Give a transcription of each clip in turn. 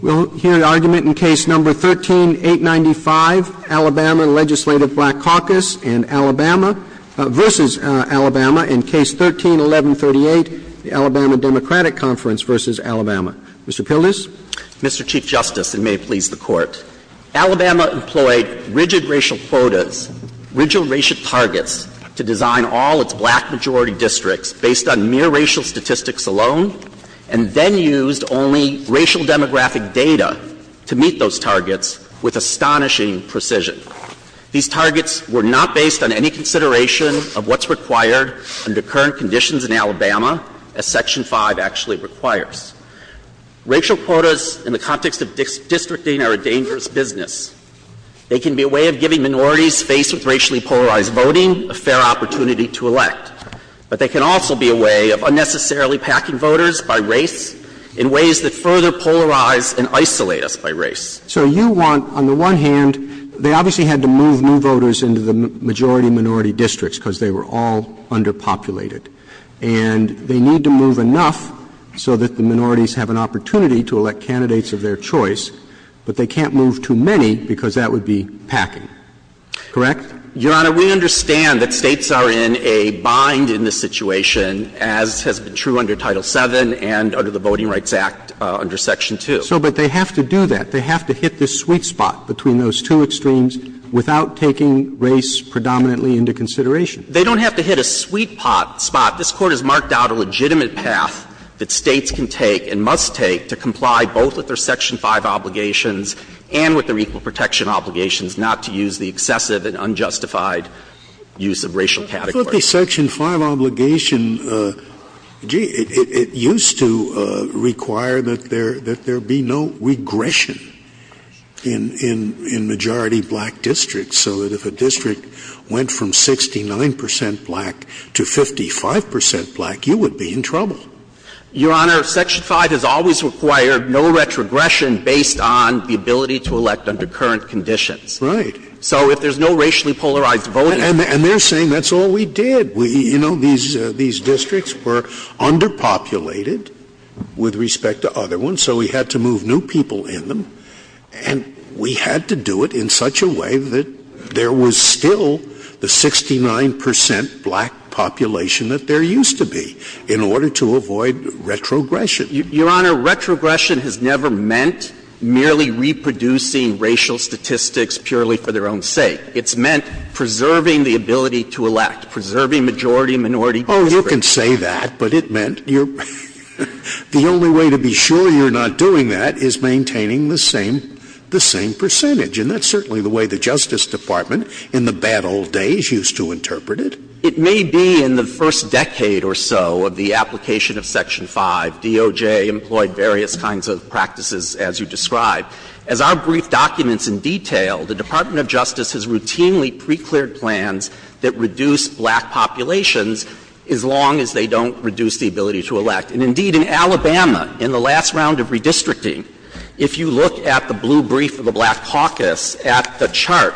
We'll hear the argument in Case No. 13-895, Alabama Legislative Black Caucus v. Alabama, and Case No. 13-1138, the Alabama Democratic Conference v. Alabama. Mr. Pildes? Mr. Chief Justice, and may it please the Court, Alabama employed rigid racial quotas, rigid racial targets, to design all its black majority districts based on mere racial statistics alone, and then used only racial demographic data to meet those targets with astonishing precision. These targets were not based on any consideration of what's required under current conditions in Alabama, as Section 5 actually requires. Racial quotas in the context of districting are a dangerous business. They can be a way of giving minorities faced with racially polarized voting a fair opportunity to elect, but they can also be a way of unnecessarily packing voters by race in ways that further polarize and isolate us by race. So you want, on the one hand, they obviously had to move new voters into the majority minority districts because they were all underpopulated, and they need to move enough so that the minorities have an opportunity to elect candidates of their choice, but they can't move too many because that would be packing. Correct? Your Honor, we understand that states are in a bind in this situation, as has been true under Title VII and under the Voting Rights Act under Section 2. So, but they have to do that. They have to hit this sweet spot between those two extremes without taking race predominantly into consideration. They don't have to hit a sweet spot. This Court has marked out a legitimate path that states can take and must take to comply both with their Section 5 obligations and with their equal protection obligations, not to use the excessive and unjustified use of racial categories. But the Section 5 obligation, it used to require that there be no regression in majority black districts, so that if a district went from 69% black to 55% black, you would be in trouble. Your Honor, Section 5 has always required no retrogression based on the ability to elect under current conditions. Right. So if there's no racially polarized voting... And they're saying that's all we did. You know, these districts were underpopulated with respect to other ones, so we had to move new people in them, and we had to do it in such a way that there was still the 69% black population that there used to be in order to avoid retrogression. Your Honor, retrogression has never meant merely reproducing racial statistics purely for their own sake. It's meant preserving the ability to elect, preserving majority and minority. Oh, you can say that, but it meant the only way to be sure you're not doing that is maintaining the same percentage, and that's certainly the way the Justice Department in the bad old days used to interpret it. It may be in the first decade or so of the application of Section 5, DOJ employed various kinds of practices, as you describe. As our brief documents in detail, the Department of Justice has routinely pre-cleared plans that reduce black populations as long as they don't reduce the ability to elect. And indeed, in Alabama, in the last round of redistricting, if you look at the blue brief of the black caucus at the chart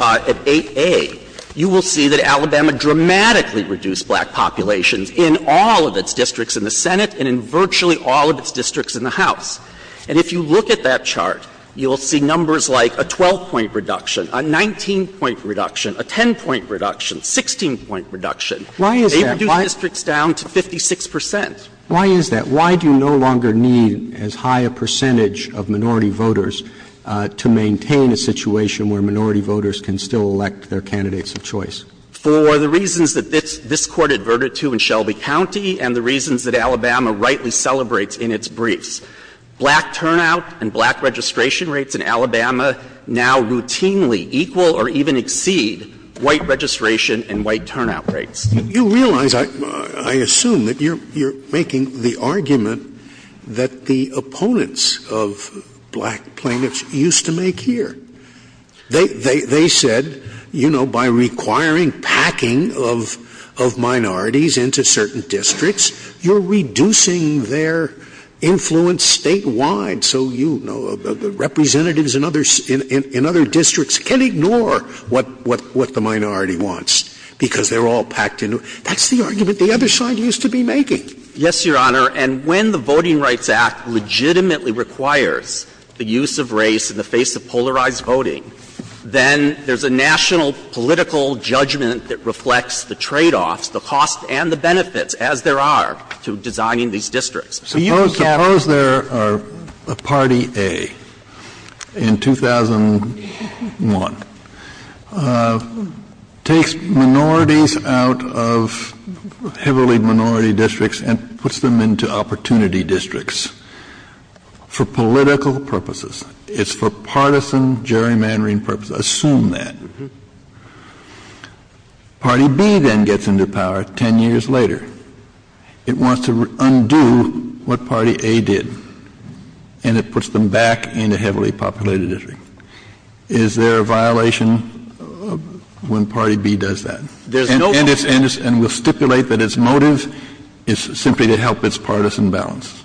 at 8A, you will see that Alabama dramatically reduced black populations in all of its districts in the Senate and in virtually all of its districts in the House. And if you look at that chart, you will see numbers like a 12-point reduction, a 19-point reduction, a 10-point reduction, 16-point reduction. Why is that? They reduced districts down to 56 percent. Why is that? Why do you no longer need as high a percentage of minority voters to maintain a situation where minority voters can still elect their candidates of choice? For the reasons that this court adverted to in Shelby County and the reasons that Alabama rightly celebrates in its briefs. Black turnout and black registration rates in Alabama now routinely equal or even exceed white registration and white turnout rates. You realize, I assume, that you're making the argument that the opponents of black plaintiffs used to make here. They said, you know, by requiring packing of minorities into certain districts, you're reducing their influence statewide. So, you know, the representatives in other districts can ignore what the minority wants because they're all packed in. That's the argument the other side used to be making. Yes, Your Honor. And when the Voting Rights Act legitimately requires the use of race in the face of polarized voting, then there's a national political judgment that reflects the tradeoffs, the costs, and the benefits, as there are to designing these districts. Suppose a party A in 2001 takes minorities out of heavily minority districts and puts them into opportunity districts for political purposes. It's for partisan gerrymandering purposes. Assume that. Party B then gets into power ten years later. It wants to undo what party A did, and it puts them back into heavily populated districts. Is there a violation when party B does that? There's no violation. And it will stipulate that its motive is simply to help its partisan balance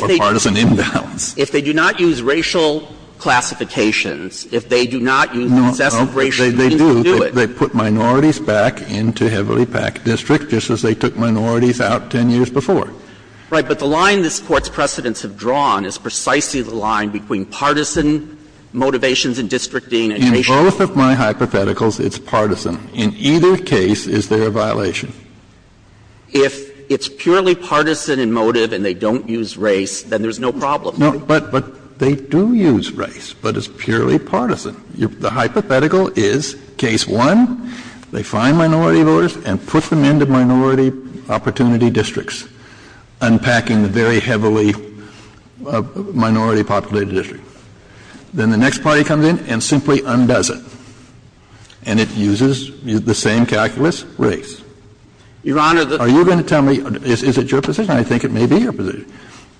or partisan imbalance. If they do not use racial classifications, if they do not use the definition of race, they can't do it. They put minorities back into heavily packed districts, just as they took minorities out ten years before. Right, but the line this Court's precedents have drawn is precisely the line between partisan motivations in districting. In both of my hypotheticals, it's partisan. In either case, is there a violation? If it's purely partisan in motive and they don't use race, then there's no problem. But they do use race, but it's purely partisan. The hypothetical is, case one, they find minority voters and put them into minority opportunity districts, unpacking the very heavily minority populated districts. Then the next party comes in and simply undoes it. And it uses the same calculus, race. Your Honor, the... Are you going to tell me, is it your position? I think it may be your position.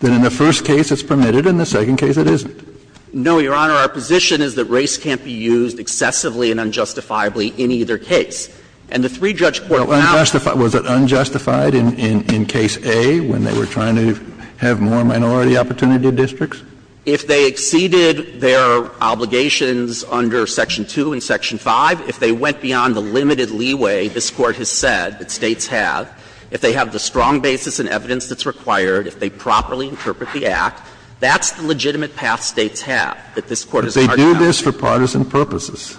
That in the first case it's permitted, in the second case it isn't. No, Your Honor, our position is that race can't be used excessively and unjustifiably in either case. And the three judge courts... Was it unjustified in case A when they were trying to have more minority opportunity districts? If they exceeded their obligations under Section 2 and Section 5, if they went beyond the limited leeway this Court has said that States have, if they have the strong basis and evidence that's required, if they properly interpret the Act, that's the legitimate path States have, that this Court... But they do this for partisan purposes.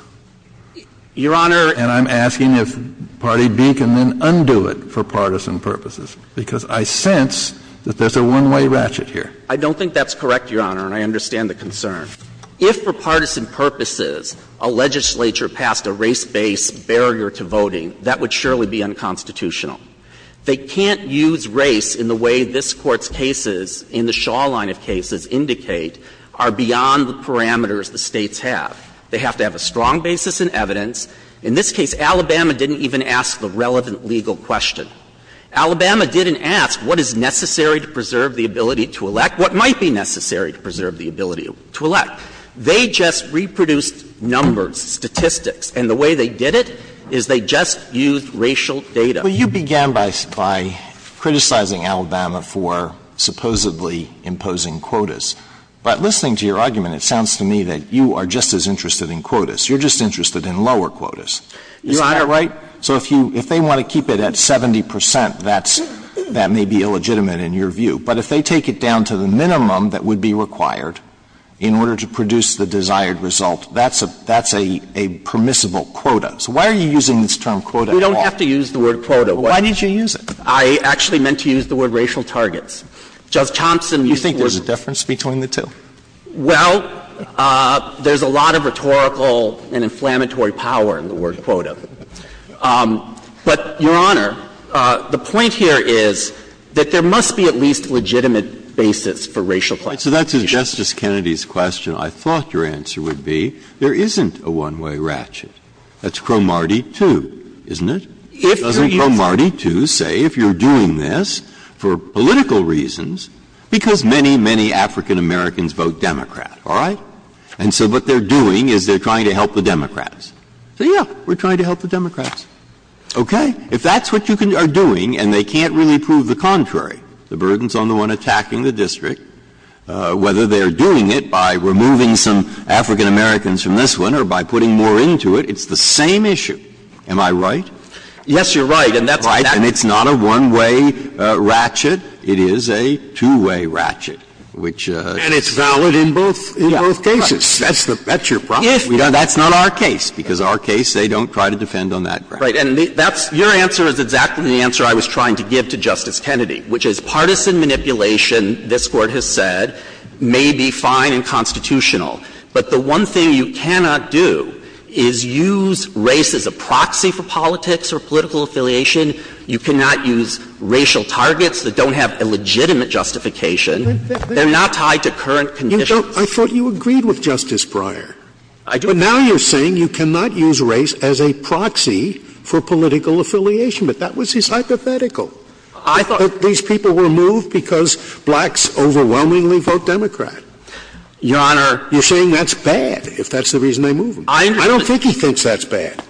Your Honor... And I'm asking if Party B can then undo it for partisan purposes, because I sense that there's a one-way ratchet here. I don't think that's correct, Your Honor, and I understand the concern. If for partisan purposes a legislature passed a race-based barrier to voting, that would surely be unconstitutional. They can't use race in the way this Court's cases in the Shaw line of cases indicate are beyond the parameters that States have. They have to have a strong basis in evidence. In this case, Alabama didn't even ask the relevant legal question. Alabama didn't ask what is necessary to preserve the ability to elect, what might be necessary to preserve the ability to elect. They just reproduced numbers, statistics, and the way they did it is they just used racial data. Well, you began by criticizing Alabama for supposedly imposing quotas. But listening to your argument, it sounds to me that you are just as interested in quotas. You're just interested in lower quotas. Your Honor... ...that may be illegitimate in your view. But if they take it down to the minimum that would be required in order to produce the desired result, that's a permissible quota. So why are you using this term, quota, at all? You don't have to use the word quota. Why did you use it? I actually meant to use the word racial targets. Judge Thompson... Do you think there's a difference between the two? Well, there's a lot of rhetorical and inflammatory power in the word quota. But, Your Honor, the point here is that there must be at least legitimate basis for racial targets. So that's Justice Kennedy's question. I thought your answer would be, there isn't a one-way ratchet. That's Cro-Marty 2, isn't it? Doesn't Cro-Marty 2 say, if you're doing this for political reasons, because many, many African Americans vote Democrat, all right? And so what they're doing is they're trying to help the Democrats. So, yeah, we're trying to help the Democrats. Okay. If that's what you are doing and they can't really prove the contrary, the burdens on the one attacking the district, whether they're doing it by removing some African Americans from this one or by putting more into it, it's the same issue. Am I right? Yes, you're right. And it's not a one-way ratchet. It is a two-way ratchet, which... And it's valid in both cases. That's your problem. That's not our case, because our case, they don't try to defend on that ground. Right. And your answer is exactly the answer I was trying to give to Justice Kennedy, which is partisan manipulation, this Court has said, may be fine and constitutional. But the one thing you cannot do is use race as a proxy for politics or political affiliation. You cannot use racial targets that don't have a legitimate justification. They're not tied to current conditions. I thought you agreed with Justice Breyer. But now you're saying you cannot use race as a proxy for political affiliation. But that was his hypothetical. I thought these people were moved because blacks overwhelmingly vote Democrat. Your Honor... You're saying that's bad, if that's the reason they're moving. I don't think he thinks that's bad.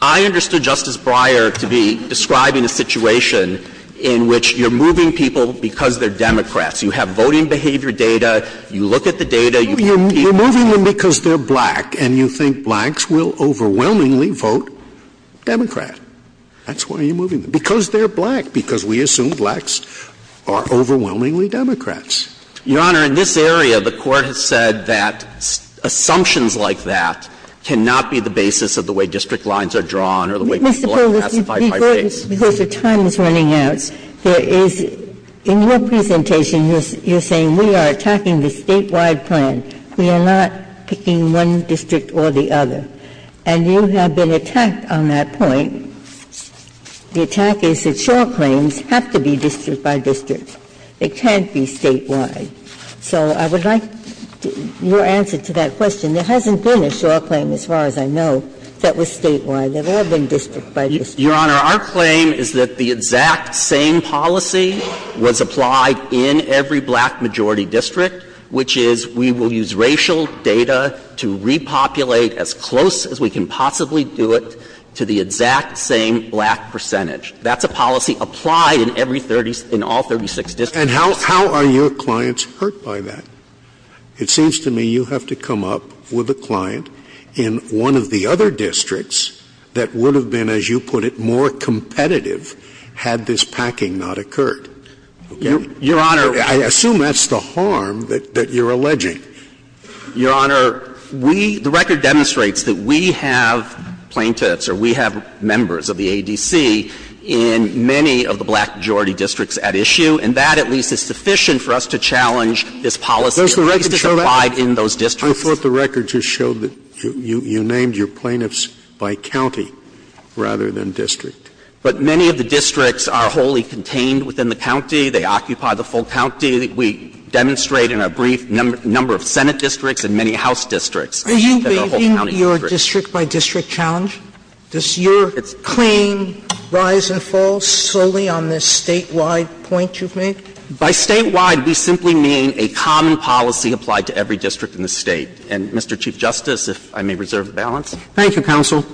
I understood Justice Breyer to be describing a situation in which you're moving people because they're Democrats. You have voting behavior data. You look at the data. You're moving them because they're black, and you think blacks will overwhelmingly vote Democrat. That's why you're moving them. Because they're black, because we assume blacks are overwhelmingly Democrats. Your Honor, in this area, the Court has said that assumptions like that cannot be the basis of the way district lines are drawn or the way... Because the time is running out. In your presentation, you're saying we are attacking the statewide plan. We are not picking one district or the other. And you have been attacked on that point. The attack is that SOAR claims have to be district by district. They can't be statewide. So I would like your answer to that question. There hasn't been a SOAR claim, as far as I know, that was statewide. Your Honor, our claim is that the exact same policy was applied in every black majority district, which is we will use racial data to repopulate as close as we can possibly do it to the exact same black percentage. That's a policy applied in all 36 districts. And how are your clients hurt by that? It seems to me you have to come up with a client in one of the other districts that would have been, as you put it, more competitive had this packing not occurred. I assume that's the harm that you're alleging. Your Honor, the record demonstrates that we have plaintiffs or we have members of the ADC in many of the black majority districts at issue, and that, at least, is sufficient for us to challenge this policy to be applied in those districts. Your record just showed that you named your plaintiffs by county rather than district. But many of the districts are wholly contained within the county. They occupy the full county. We demonstrate in a brief number of Senate districts and many House districts. Isn't your district by district challenge? Does your claim rise and fall slowly on this statewide point you've made? By statewide, we simply mean a common policy applied to every district in the state. And, Mr. Chief Justice, if I may reserve the balance. Thank you, counsel.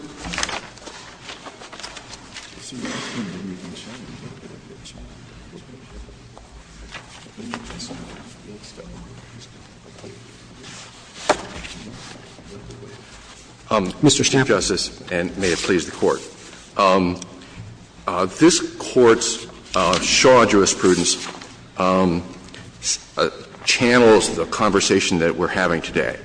Mr. Staff? Justice, and may it please the Court. This Court's short jurisprudence channels the conversation that we're having today.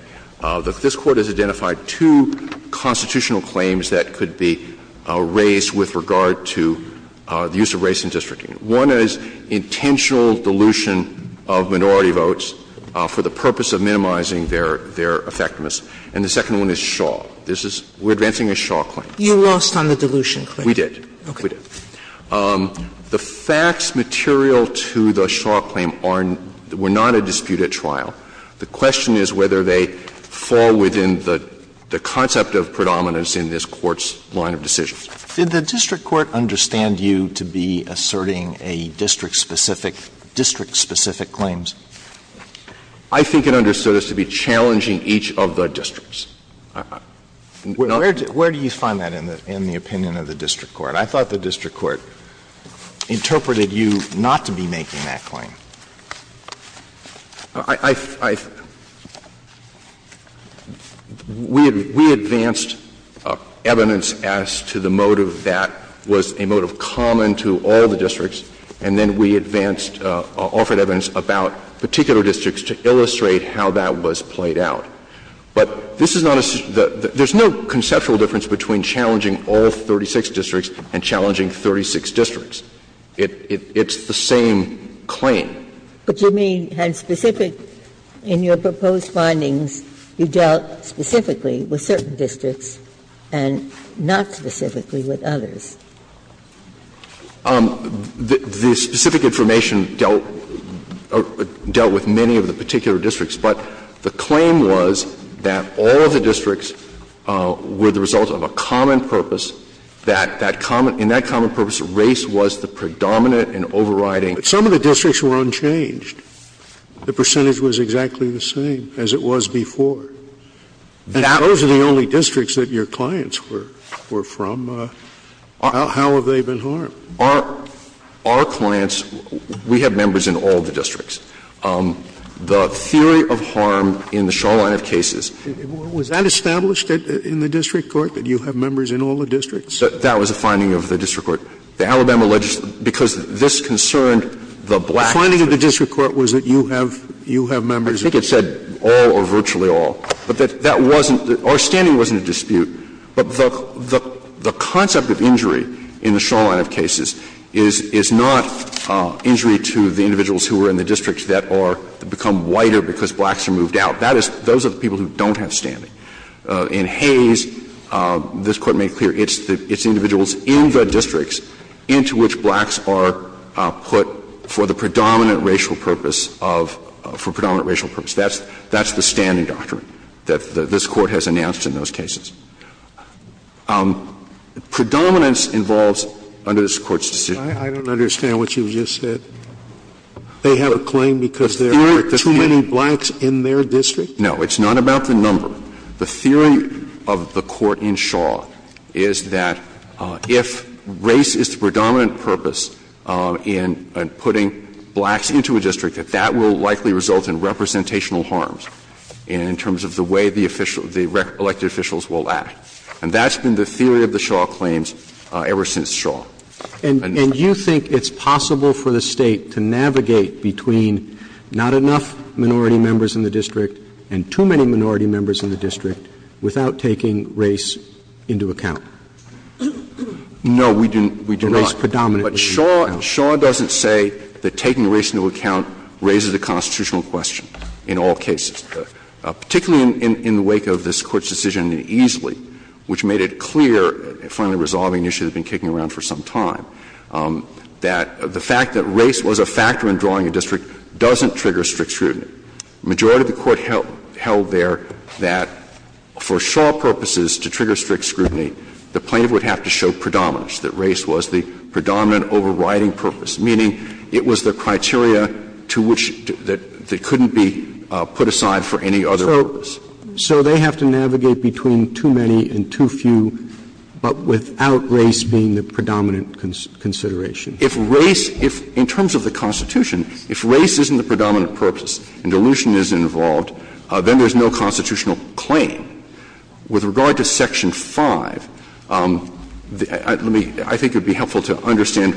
This Court has identified two constitutional claims that are not in the statute. One is intentional dilution of minority votes for the purpose of minimizing their effectiveness. And the second one is Shaw. This is — we're advancing a Shaw claim. You lost on the dilution, correct? We did. Okay. We did. The question is whether they fall within the concept of predominance in this Court's line of decision. Did the district court understand you to be asserting a district-specific claims? I think it understood us to be challenging each of the districts. Where do you find that in the opinion of the district court? I thought the district court interpreted you not to be making that claim. I — we advanced evidence as to the motive that was a motive common to all the districts, and then we advanced — offered evidence about particular districts to illustrate how that was played out. But this is not a — there's no conceptual difference between challenging all 36 districts and challenging 36 districts. It's the same claim. But you may have specific — in your proposed findings, you dealt specifically with certain districts and not specifically with others. The specific information dealt with many of the particular districts, but the claim was that all the districts were the result of a common purpose, that in that common purpose, race was the predominant and overriding — But some of the districts were unchanged. The percentage was exactly the same as it was before. And those are the only districts that your clients were from. How have they been harmed? Our clients — we have members in all the districts. The theory of harm in the Charlotte cases — Was that established in the district court, that you have members in all the districts? That was a finding of the district court. The Alabama — because this concerned the blacks — The finding of the district court was that you have — you have members — I think it said all or virtually all. But that wasn't — our standing wasn't in dispute. But the concept of injury in the Charlotte cases is not injury to the individuals who are in the districts that are — become whiter because blacks are moved out. Those are the people who don't have standing. In Hayes, this Court made clear, it's individuals in the districts into which blacks are put for the predominant racial purpose of — for predominant racial purpose. That's the standing doctrine that this Court has announced in those cases. Predominance involves — under this Court's decision — I don't understand what you just said. They have a claim because there are too many blacks in their district? No, it's not about the number. The theory of the Court in Shaw is that if race is the predominant purpose in putting blacks into a district, that that will likely result in representational harms in terms of the way the elected officials will act. And that's been the theory of the Shaw claims ever since Shaw. And you think it's possible for the State to navigate between not enough minority members in the district and too many minority members in the district without taking race into account? No, we do not. But Shaw doesn't say that taking race into account raises the constitutional question in all cases, particularly in the wake of this Court's decision in Easley, which made it clear, finally resolving an issue that had been kicking around for some time, that the fact that race was a factor in drawing a district doesn't trigger strict scrutiny. The majority of the Court held there that for Shaw purposes to trigger strict scrutiny, the plaintiff would have to show predominance, that race was the predominant overriding purpose, meaning it was the criteria to which — that couldn't be put aside for any other purpose. So they have to navigate between too many and too few but without race being the predominant consideration. If race — in terms of the Constitution, if race isn't the predominant purpose and dilution isn't involved, then there's no constitutional claim. With regard to Section 5, I think it would be helpful to understand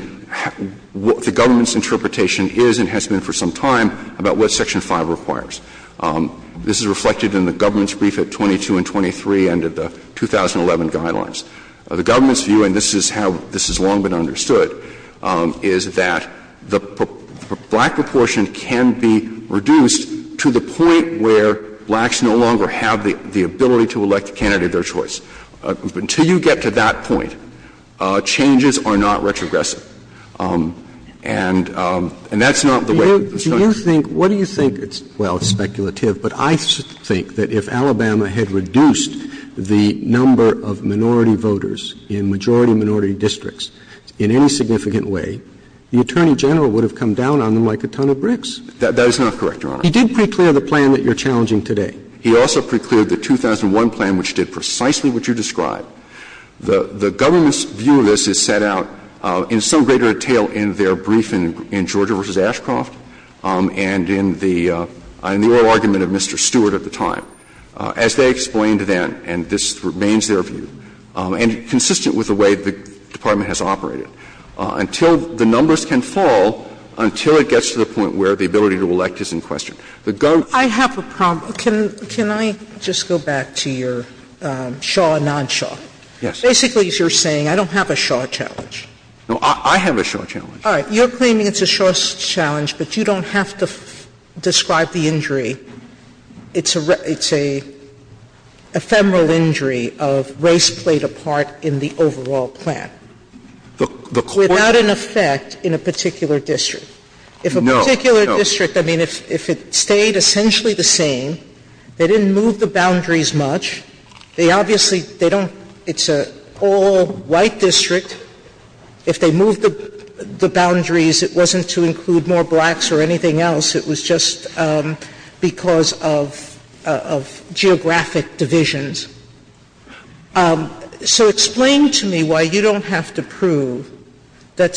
what the government's interpretation is and has been for some time about what Section 5 requires. This is reflected in the government's brief at 22 and 23 and at the 2011 guidelines. The government's view, and this is how this has long been understood, is that the black proportion can be reduced to the point where blacks no longer have the ability to elect a candidate of their choice. Until you get to that point, changes are not retrogressive. And that's not the way — Do you think — what do you think — well, it's speculative, but I think that if Alabama had reduced the number of minority voters in majority-minority districts in any significant way, the Attorney General would have come down on them like a ton of bricks. That is not correct, Your Honor. He did pre-clear the plan that you're challenging today. He also pre-cleared the 2001 plan, which did precisely what you described. The government's view of this is set out in some greater detail in their brief in Georgia v. Ashcroft and in the oral argument of Mr. Stewart at the time. As they explained then, and this remains their view, and consistent with the way the Department has operated, until the numbers can fall until it gets to the point where the ability to elect is in question. I have a problem. Can I just go back to your Shaw-Nonshaw? Yes. Basically, you're saying, I don't have a Shaw challenge. No, I have a Shaw challenge. All right. You're claiming it's a Shaw challenge, but you don't have to describe the injury. It's an ephemeral injury of race played a part in the overall plan. Without an effect in a particular district. No. In a particular district, if it stayed essentially the same, they didn't move the boundaries much. It's an all-white district. If they moved the boundaries, it wasn't to include more blacks or anything else. It was just because of geographic divisions. So explain to me why you don't have to prove that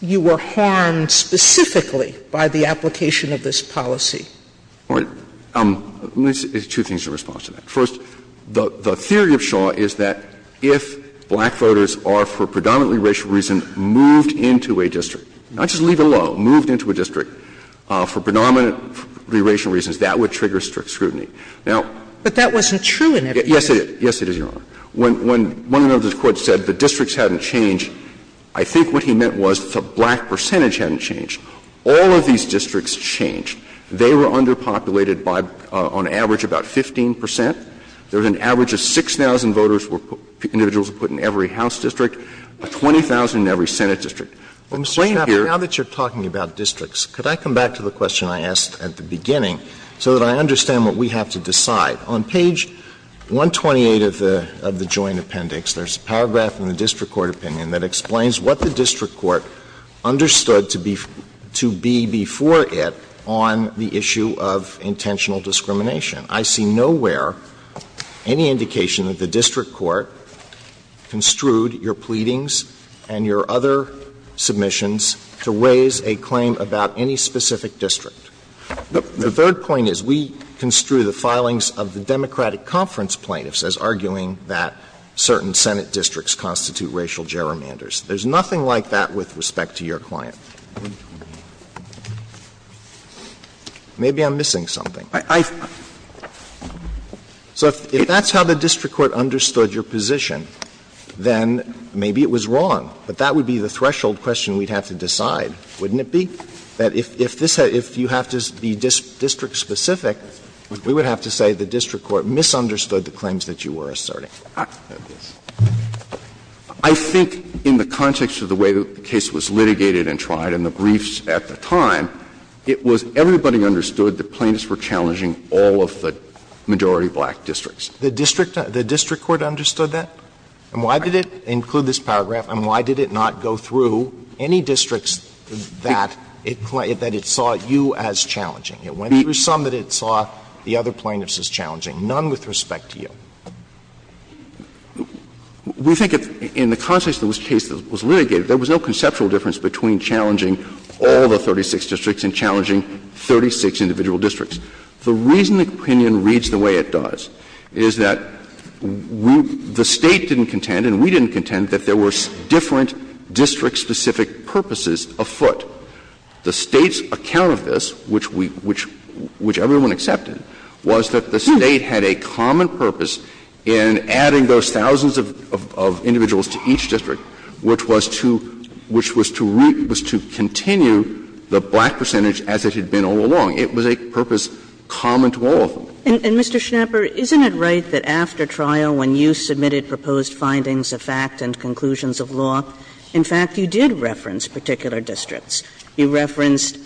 you were harmed specifically by the application of this policy. There's two things in response to that. First, the theory of Shaw is that if black voters are, for predominantly racial reasons, moved into a district, not just leave it alone, moved into a district for predominantly racial reasons, that would trigger scrutiny. But that wasn't true in every case. Yes, it is. Yes, it is, Your Honor. When one of those courts said the districts hadn't changed, I think what he meant was the black percentage hadn't changed. All of these districts changed. They were underpopulated by, on average, about 15 percent. There was an average of 6,000 voters, individuals put in every House district, 20,000 in every Senate district. Now that you're talking about districts, could I come back to the question I asked at the beginning so that I understand what we have to decide? On page 128 of the Joint Appendix, there's a paragraph in the district court opinion that explains what the district court understood to be before it on the issue of intentional discrimination. I see nowhere any indication that the district court construed your pleadings and your other submissions to raise a claim about any specific district. The third point is we construe the filings of the Democratic conference plaintiffs as arguing that certain Senate districts constitute racial gerrymanders. There's nothing like that with respect to your client. Maybe I'm missing something. So if that's how the district court understood your position, then maybe it was wrong. But that would be the threshold question we'd have to decide, wouldn't it be? That if you have to be district-specific, we would have to say the district court misunderstood the claims that you were asserting. I think in the context of the way the case was litigated and tried and the briefs at the time, it was everybody understood the plaintiffs were challenging all of the majority black districts. The district court understood that? And why did it include this paragraph and why did it not go through any districts that it saw you as challenging? It went through some that it saw the other plaintiffs as challenging, none with respect to you. We think in the context of the case that was litigated, there was no conceptual difference between challenging all the 36 districts and challenging 36 individual districts. The reason the opinion reads the way it does is that the State didn't contend, and we didn't contend, that there were different district-specific purposes afoot. The State's account of this, which everyone accepted, was that the State had a common purpose in adding those thousands of individuals to each district, which was to continue the black percentage as it had been all along. It was a purpose common to all of them. And, Mr. Schnapper, isn't it right that after trial, when you submitted proposed findings of fact and conclusions of law, in fact, you did reference particular districts? You referenced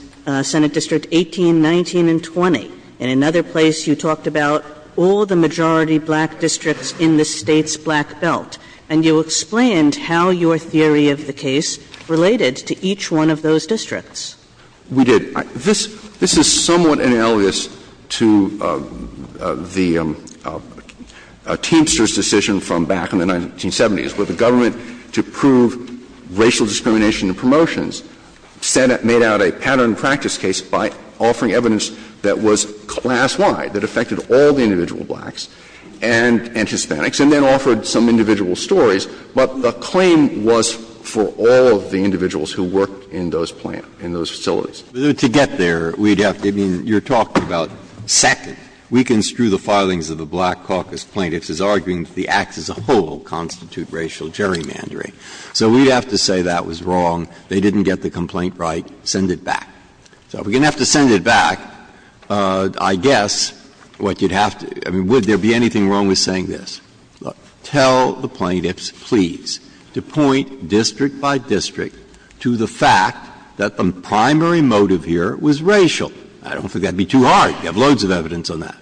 Senate District 18, 19, and 20. In another place, you talked about all the majority black districts in the State's black belt, and you explained how your theory of the case related to each one of those districts. We did. This is somewhat analogous to the Teamsters decision from back in the 1970s, where the government, to prove racial discrimination in promotions, made out a pattern practice case by offering evidence that was class-wide, that affected all the individual blacks and Hispanics, and then offered some individual stories. But the claim was for all of the individuals who worked in those facilities. To get there, you're talking about second. We can strew the filings of the Black Caucus plaintiffs as arguing the acts as a whole constitute racial gerrymandering. So we have to say that was wrong, they didn't get the complaint right, send it back. So if we're going to have to send it back, I guess, would there be anything wrong with saying this? Tell the plaintiffs, please, to point district by district to the fact that the primary motive here was racial. I don't think that would be too hard. You have loads of evidence on that.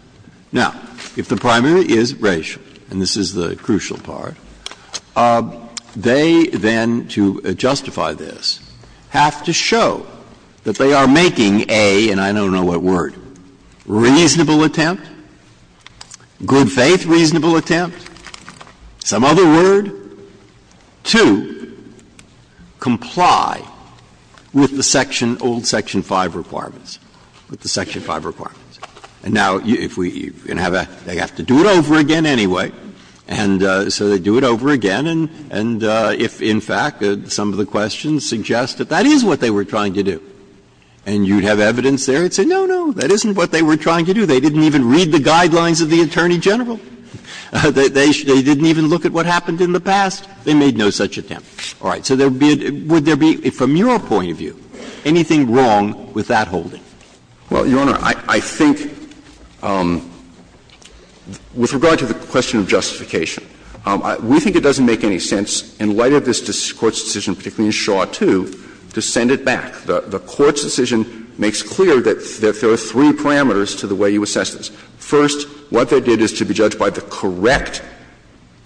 Now, if the primary is racial, and this is the crucial part, they then, to justify this, have to show that they are making a, and I don't know what word, reasonable attempt, good faith, reasonable attempt, some other word, to comply with the section, old Section 5 requirements. With the Section 5 requirements. And now, if we have a, they have to do it over again anyway, and so they do it over again, and if, in fact, some of the questions suggest that that is what they were trying to do. And you have evidence there that says, no, no, that isn't what they were trying to do. They didn't even read the guidelines of the Attorney General. They didn't even look at what happened in the past. They made no such attempt. All right. So would there be, from your point of view, anything wrong with that holding? Well, Your Honor, I think, with regard to the question of justification, we think it doesn't make any sense in light of this Court's decision, particularly in Shaw 2, to send it back. The Court's decision makes clear that there are three parameters to the way you assess this. First, what they did is to be judged by the correct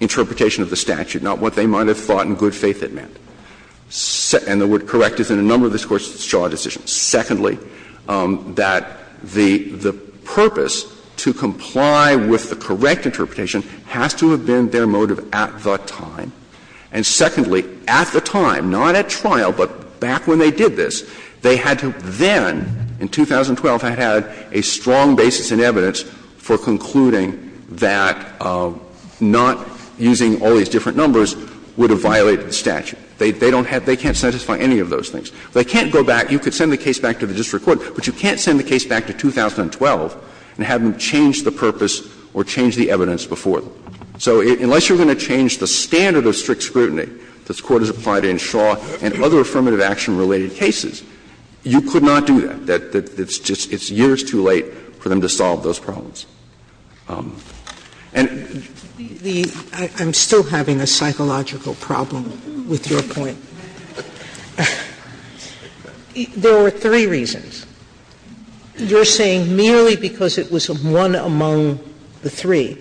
interpretation of the statute, not what they might have thought in good faith it meant. And the word correct is in a number of this Court's Shaw decisions. Secondly, that the purpose to comply with the correct interpretation has to have been their motive at the time. And secondly, at the time, not at trial, but back when they did this, they had to then, in 2012, have had a strong basis in evidence for concluding that not using all these different numbers would have violated the statute. They don't have — they can't satisfy any of those things. They can't go back. You could send the case back to the district court, but you can't send the case back to 2012 and have them change the purpose or change the evidence before that. So unless you're going to change the standard of strict scrutiny that's qualified in Shaw and other affirmative action-related cases, you could not do that. It's just — it's years too late for them to solve those problems. And — I'm still having a psychological problem with your point. There were three reasons. You're saying merely because it was one among the three.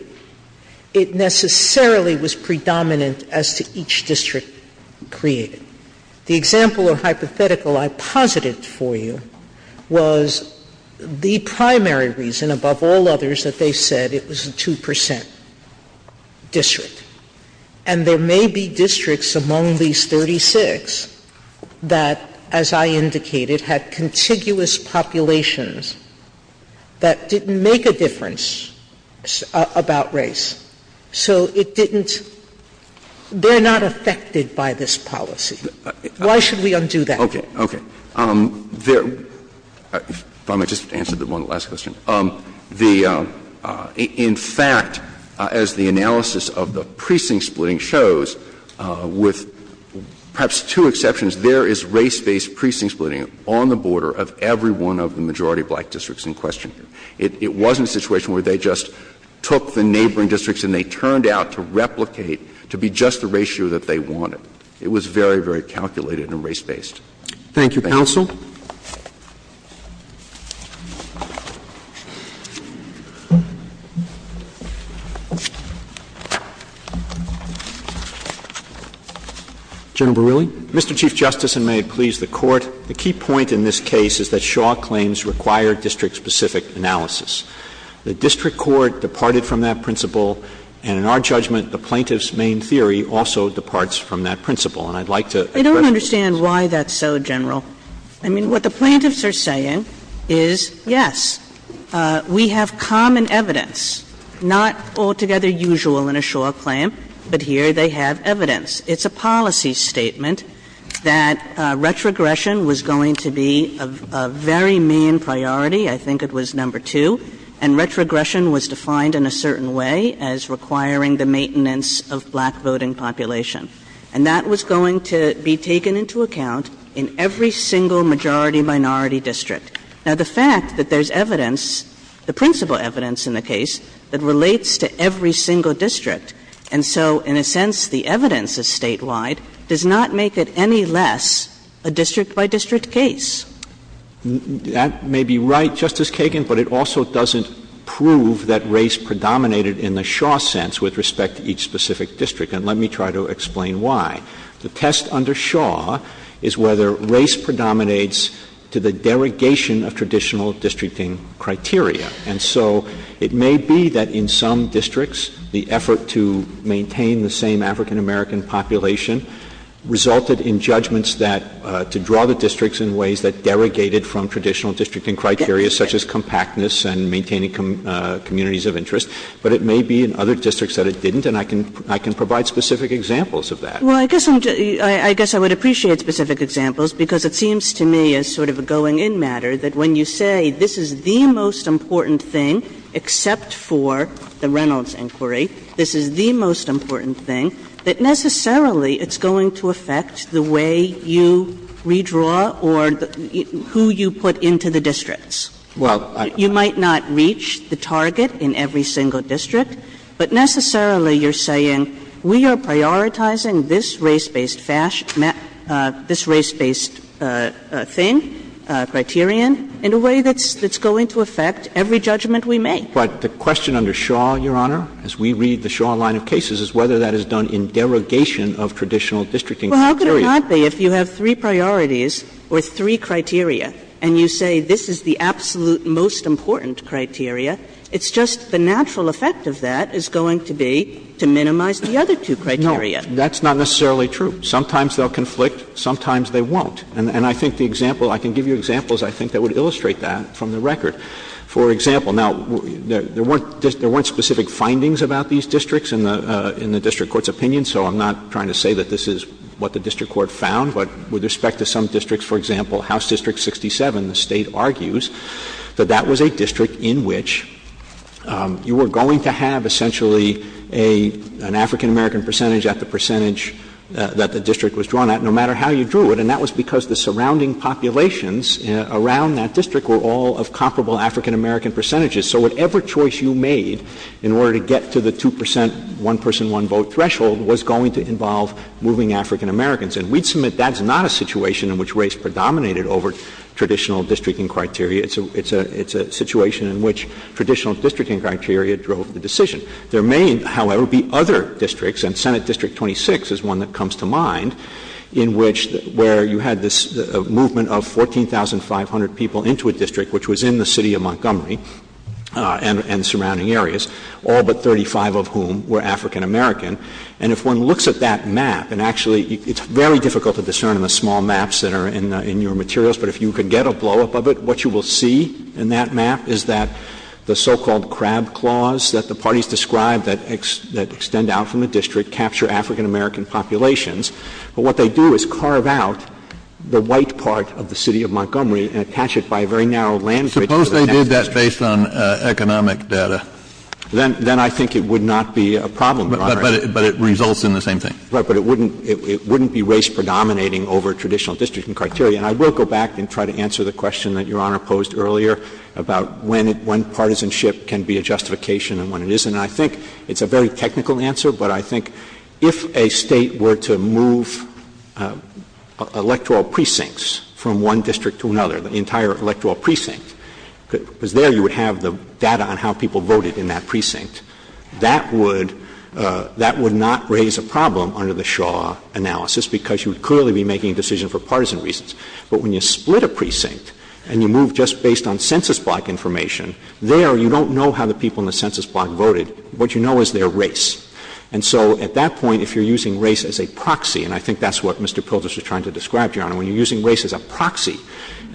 It necessarily was predominant as to each district created. The example or hypothetical I posited for you was the primary reason, above all others, that they said it was a 2 percent district. And there may be districts among these 36 that, as I indicated, had contiguous populations that didn't make a difference about race. So it didn't — they're not affected by this policy. Why should we undo that? Okay, okay. There — if I may just answer the one last question. The — in fact, as the analysis of the precinct splitting shows, with perhaps two exceptions, there is race-based precinct splitting on the border of every one of the majority black districts in question. It wasn't a situation where they just took the neighboring districts and they turned out to replicate to be just the ratio that they wanted. It was very, very calculated and race-based. Thank you, counsel. Thank you. General Beroulli? Mr. Chief Justice, and may it please the Court, the key point in this case is that Shaw claims required district-specific analysis. The district court departed from that principle, and in our judgment the plaintiff's main theory also departs from that principle. And I'd like to — I don't understand why that's so, General. I mean, what the plaintiffs are saying is, yes, we have common evidence, not altogether usual in a Shaw claim, but here they have evidence. It's a policy statement that retrogression was going to be a very main priority. I think it was number two. And retrogression was defined in a certain way as requiring the maintenance of black voting population. And that was going to be taken into account in every single majority-minority district. Now, the fact that there's evidence, the principal evidence in the case, that relates to every single district, and so, in a sense, the evidence is statewide does not make it any less a district-by-district case. That may be right, Justice Kagan, but it also doesn't prove that race predominated in the Shaw sense with respect to each specific district. And let me try to explain why. The test under Shaw is whether race predominates to the derogation of traditional districting criteria. And so it may be that in some districts, the effort to maintain the same African-American population resulted in judgments that — to draw the districts in ways that derogated from traditional districting criteria, such as compactness and maintaining communities of interest. But it may be in other districts that it didn't, and I can provide specific examples of that. Well, I guess I would appreciate specific examples, because it seems to me as sort of a going-in matter that when you say this is the most important thing, except for the Reynolds inquiry, this is the most important thing, that necessarily it's going to affect the way you redraw or who you put into the districts. You might not reach the target in every single district, but necessarily you're saying we are prioritizing this race-based thing, criterion, in a way that's going to affect every judgment we make. But the question under Shaw, Your Honor, as we read the Shaw line of cases, is whether that is done in derogation of traditional districting criteria. Well, how could it not be if you have three priorities or three criteria, and you say this is the absolute most important criteria. It's just the natural effect of that is going to be to minimize the other two criteria. No. That's not necessarily true. Sometimes they'll conflict. Sometimes they won't. And I think the example — I can give you examples, I think, that would illustrate that from the record. For example, now, there weren't specific findings about these districts in the district court's opinion, so I'm not trying to say that this is what the district court found. But with respect to some districts, for example, House District 67, the state argues that that was a district in which you were going to have essentially an African-American percentage at the percentage that the district was drawn at, no matter how you drew it. And that was because the surrounding populations around that district were all of comparable African-American percentages. So whatever choice you made in order to get to the 2 percent one-person, one-vote threshold was going to involve moving African-Americans. And we'd submit that's not a situation in which race predominated over traditional districting criteria. It's a situation in which traditional districting criteria drove the decision. There may, however, be other districts, and Senate District 26 is one that comes to mind, in which — where you had this movement of 14,500 people into a district, which was in the city of Montgomery and surrounding areas, all but 35 of whom were African-American. And if one looks at that map, and actually it's very difficult to discern in the small maps that are in your materials, but if you could get a blow-up of it, what you will see in that map is that the so-called crab claws that the parties described that extend out from the district capture African-American populations. But what they do is carve out the white part of the city of Montgomery and attach it by a very narrow landscape. Suppose they did that based on economic data. But it results in the same thing. Right, but it wouldn't be race predominating over traditional districting criteria. And I will go back and try to answer the question that Your Honor posed earlier about when partisanship can be a justification and when it isn't. And I think it's a very technical answer, but I think if a state were to move electoral precincts from one district to another, the entire electoral precinct, because there you would have the data on how people voted in that precinct, that would not raise a problem under the Shaw analysis because you would clearly be making a decision for partisan reasons. But when you split a precinct and you move just based on census block information, there you don't know how the people in the census block voted. What you know is their race. And so at that point, if you're using race as a proxy, and I think that's what Mr. Pilgrims was trying to describe, Your Honor, when you're using race as a proxy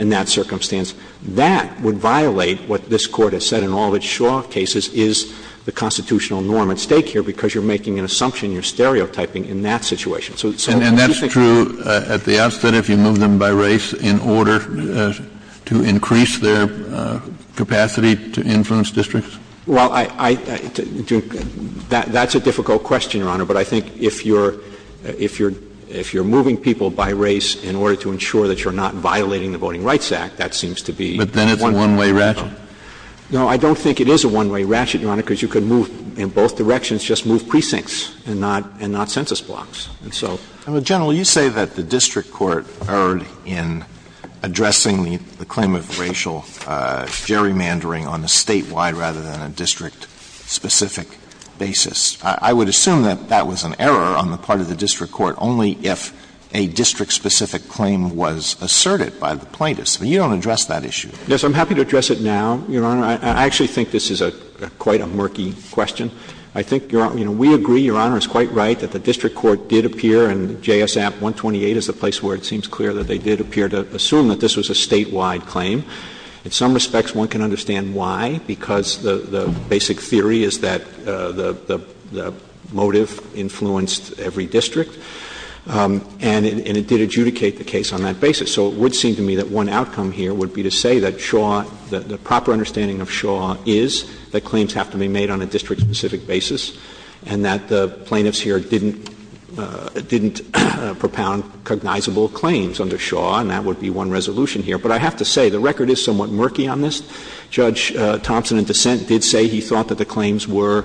in that circumstance, that would violate what this Court has said in all of its Shaw cases is the constitutional norm at stake here because you're making an assumption you're stereotyping in that situation. And that's true at the outset if you move them by race in order to increase their capacity to influence districts? Well, that's a difficult question, Your Honor. But I think if you're moving people by race in order to ensure that you're not violating the Voting Rights Act, that seems to be a one-way ratchet. No, I don't think it is a one-way ratchet, Your Honor, because you could move in both directions, just move precincts and not census blocks. General, you say that the district court erred in addressing the claim of racial gerrymandering on a statewide rather than a district-specific basis. I would assume that that was an error on the part of the district court only if a district-specific claim was asserted by the plaintiffs. But you don't address that issue. Yes, I'm happy to address it now, Your Honor. I actually think this is quite a murky question. I think, you know, we agree, Your Honor, it's quite right that the district court did appear, and JSF 128 is a place where it seems clear that they did appear to assume that this was a statewide claim. In some respects, one can understand why, because the basic theory is that the motive influenced every district, and it did adjudicate the case on that basis. So it would seem to me that one outcome here would be to say that Shaw, the proper understanding of Shaw is that claims have to be made on a district-specific basis and that the plaintiffs here didn't propound cognizable claims under Shaw, and that would be one resolution here. But I have to say, the record is somewhat murky on this. Judge Thompson, in dissent, did say he thought that the claims were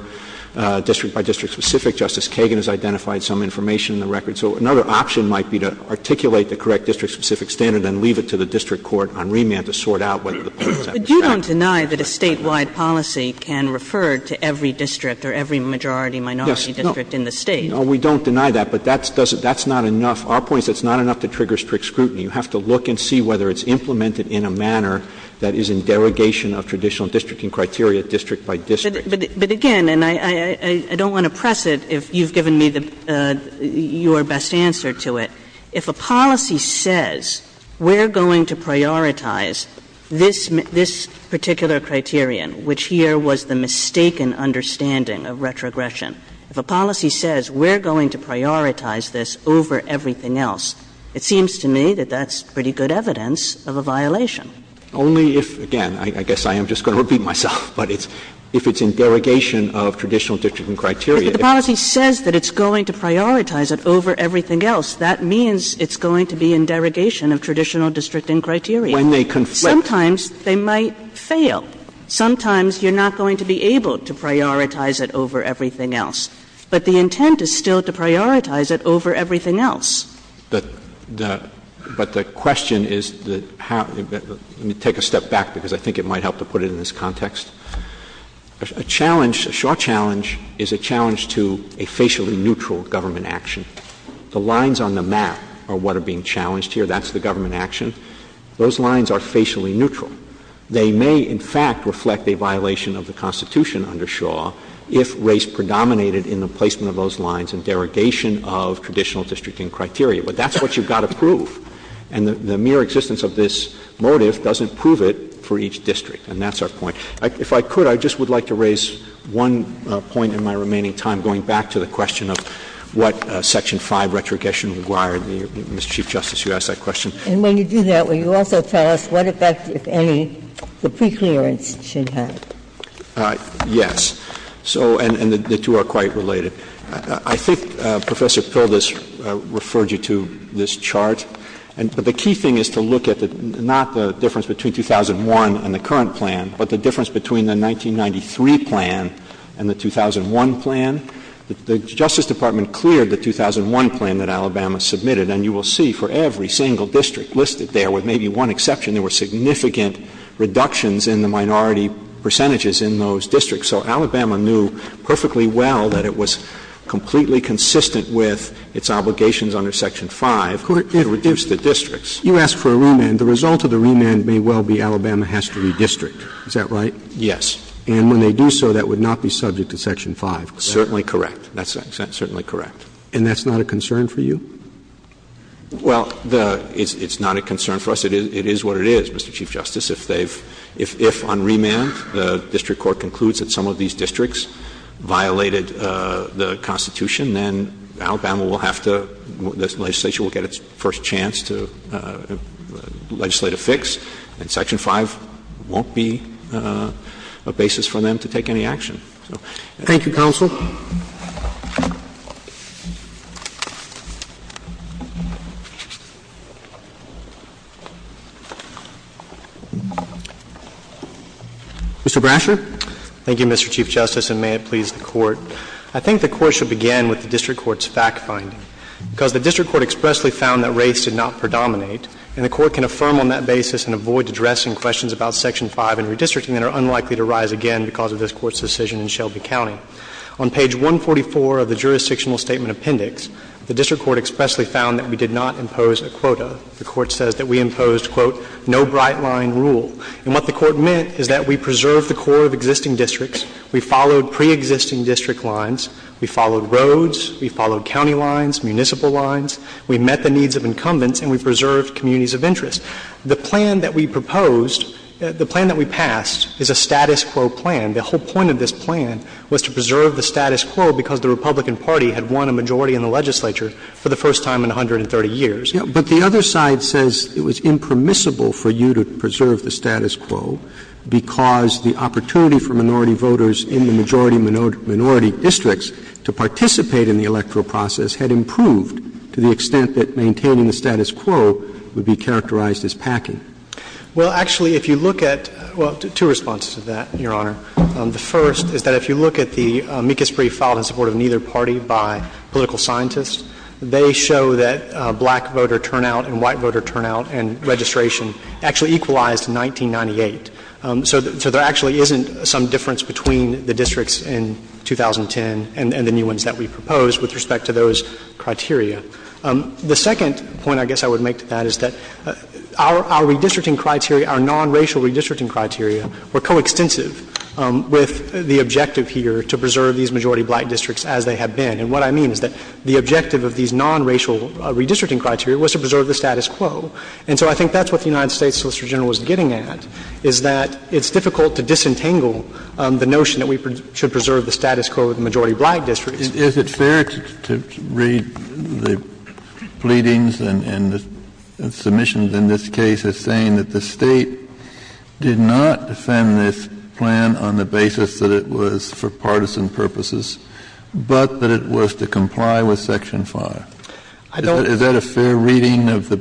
district-by-district-specific. Justice Kagan has identified some information in the record. So another option might be to articulate the correct district-specific standard and leave it to the district court on remand to sort out whether the plaintiffs have a say. But you don't deny that a statewide policy can refer to every district or every majority-minority district in the State. No, we don't deny that, but that's not enough. Our point is that's not enough to trigger strict scrutiny. You have to look and see whether it's implemented in a manner that is in derogation of traditional districting criteria, district-by-district. But, again, and I don't want to press it if you've given me your best answer to it. If a policy says we're going to prioritize this particular criterion, which here was the mistaken understanding of retrogression, if a policy says we're going to prioritize this over everything else, it seems to me that that's pretty good evidence of a violation. Only if, again, I guess I am just going to repeat myself, but if it's in derogation of traditional districting criteria. If the policy says that it's going to prioritize it over everything else, that means it's going to be in derogation of traditional districting criteria. When they conflict. Sometimes they might fail. Sometimes you're not going to be able to prioritize it over everything else. But the intent is still to prioritize it over everything else. But the question is, let me take a step back because I think it might help to put it in this context. A challenge, a Shaw challenge, is a challenge to a facially neutral government action. The lines on the map are what are being challenged here. That's the government action. Those lines are facially neutral. They may, in fact, reflect a violation of the Constitution under Shaw if race predominated in the placement of those lines and derogation of traditional districting criteria. But that's what you've got to prove. And the mere existence of this motive doesn't prove it for each district. And that's our point. If I could, I just would like to raise one point in my remaining time, going back to the question of what Section 5 retrogression would require. And, Mr. Chief Justice, you asked that question. And when you do that, will you also tell us what effects, if any, the preference should have? Yes. So, and the two are quite related. I think Professor Pildes referred you to this chart. And the key thing is to look at not the difference between 2001 and the current plan, but the difference between the 1993 plan and the 2001 plan. The Justice Department cleared the 2001 plan that Alabama submitted. And you will see for every single district listed there, with maybe one exception, there were significant reductions in the minority percentages in those districts. So Alabama knew perfectly well that it was completely consistent with its obligations under Section 5. It reduced the districts. You asked for a remand. The result of the remand may well be Alabama has to redistrict. Is that right? Yes. And when they do so, that would not be subject to Section 5? Certainly correct. That's certainly correct. And that's not a concern for you? Well, it's not a concern for us. It is what it is, Mr. Chief Justice. If on remand the district court concludes that some of these districts violated the Constitution, then Alabama will have to, this legislation will get its first chance to legislate a fix. And Section 5 won't be a basis for them to take any action. Thank you, counsel. Mr. Brasher. Thank you, Mr. Chief Justice, and may it please the Court. I think the Court should begin with the district court's fact-finding. Because the district court expressly found that race did not predominate, and the Court can affirm on that basis and avoid addressing questions about Section 5 and redistricting that are unlikely to rise again because of this Court's decision in Shelby County. On page 144 of the jurisdictional statement appendix, the district court expressly found that we did not impose a quota. The Court says that we imposed, quote, no bright-line rule. And what the Court meant is that we preserved the core of existing districts. We followed pre-existing district lines. We followed roads. We followed county lines, municipal lines. We met the needs of incumbents, and we preserved communities of interest. The plan that we proposed, the plan that we passed, is a status quo plan. The whole point of this plan was to preserve the status quo because the Republican Party had won a majority in the legislature for the first time in 130 years. But the other side says it was impermissible for you to preserve the status quo because the opportunity for minority voters in the majority-minority districts to participate in the electoral process had improved to the extent that maintaining the status quo would be characterized as packing. Well, actually, if you look at – well, two responses to that, Your Honor. The first is that if you look at the Mikis brief filed in support of neither party by political scientists, they show that black voter turnout and white voter turnout and registration actually equalized in 1998. So there actually isn't some difference between the districts in 2010 and the new ones that we proposed with respect to those criteria. The second point I guess I would make to that is that our redistricting criteria, our non-racial redistricting criteria were coextensive with the objective here to preserve these majority-black districts as they have been. And what I mean is that the objective of these non-racial redistricting criteria was to preserve the status quo. And so I think that's what the United States Solicitor General was getting at, is that it's difficult to disentangle the notion that we should preserve the status quo of the majority-black districts. Is it fair to read the pleadings and submissions in this case as saying that the state did not send this plan on the basis that it was for partisan purposes, but that it was to comply with Section 5? Is that a fair reading of the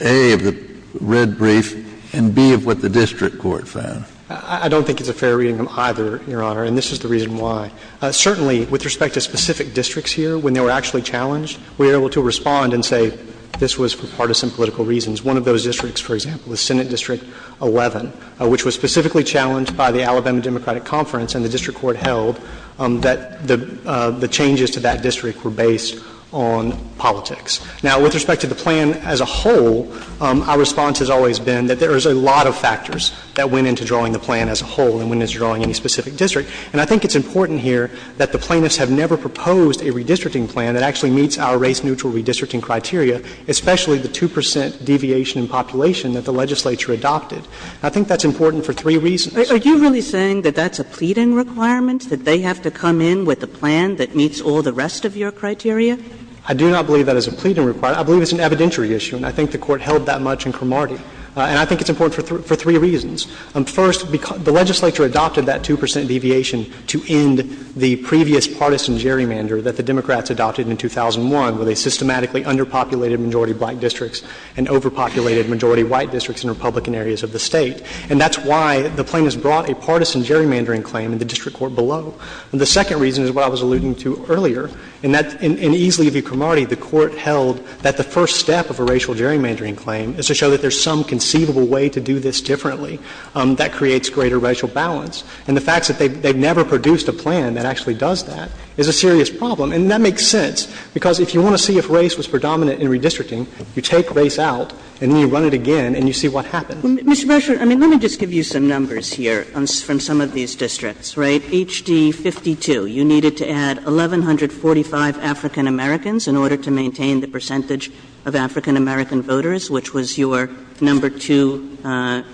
A, of the red brief, and B, of what the district court found? I don't think it's a fair reading of either, Your Honor, and this is the reason why. Certainly with respect to specific districts here, when they were actually challenged, we were able to respond and say this was for partisan political reasons. One of those districts, for example, was Senate District 11, which was specifically challenged by the Alabama Democratic Conference, and the district court held that the changes to that district were based on politics. Now, with respect to the plan as a whole, our response has always been that there is a lot of factors that went into drawing the plan as a whole and went into drawing any specific district. And I think it's important here that the plaintiffs have never proposed a redistricting plan that actually meets our race-neutral redistricting criteria, especially the 2 percent deviation in population that the legislature adopted. And I think that's important for three reasons. Are you really saying that that's a pleading requirement, that they have to come in with a plan that meets all the rest of your criteria? I do not believe that is a pleading requirement. I believe it's an evidentiary issue, and I think the court held that much in Cromartie. And I think it's important for three reasons. First, the legislature adopted that 2 percent deviation to end the previous partisan gerrymander that the Democrats adopted in 2001, where they systematically underpopulated majority-white districts and overpopulated majority-white districts in Republican areas of the State. And that's why the plaintiffs brought a partisan gerrymandering claim in the district court below. And the second reason is what I was alluding to earlier, and that's in ease with you, Cromartie, the court held that the first step of a racial gerrymandering claim is to show that there's some conceivable way to do this differently that creates greater racial balance. And the fact that they never produced a plan that actually does that is a serious problem. And that makes sense, because if you want to see if race was predominant in redistricting, you take race out, and then you run it again, and you see what happens. Mr. Bashir, I mean, let me just give you some numbers here from some of these districts, right? H.D. 52, you needed to add 1,145 African Americans in order to maintain the percentage of African American voters, which was your number two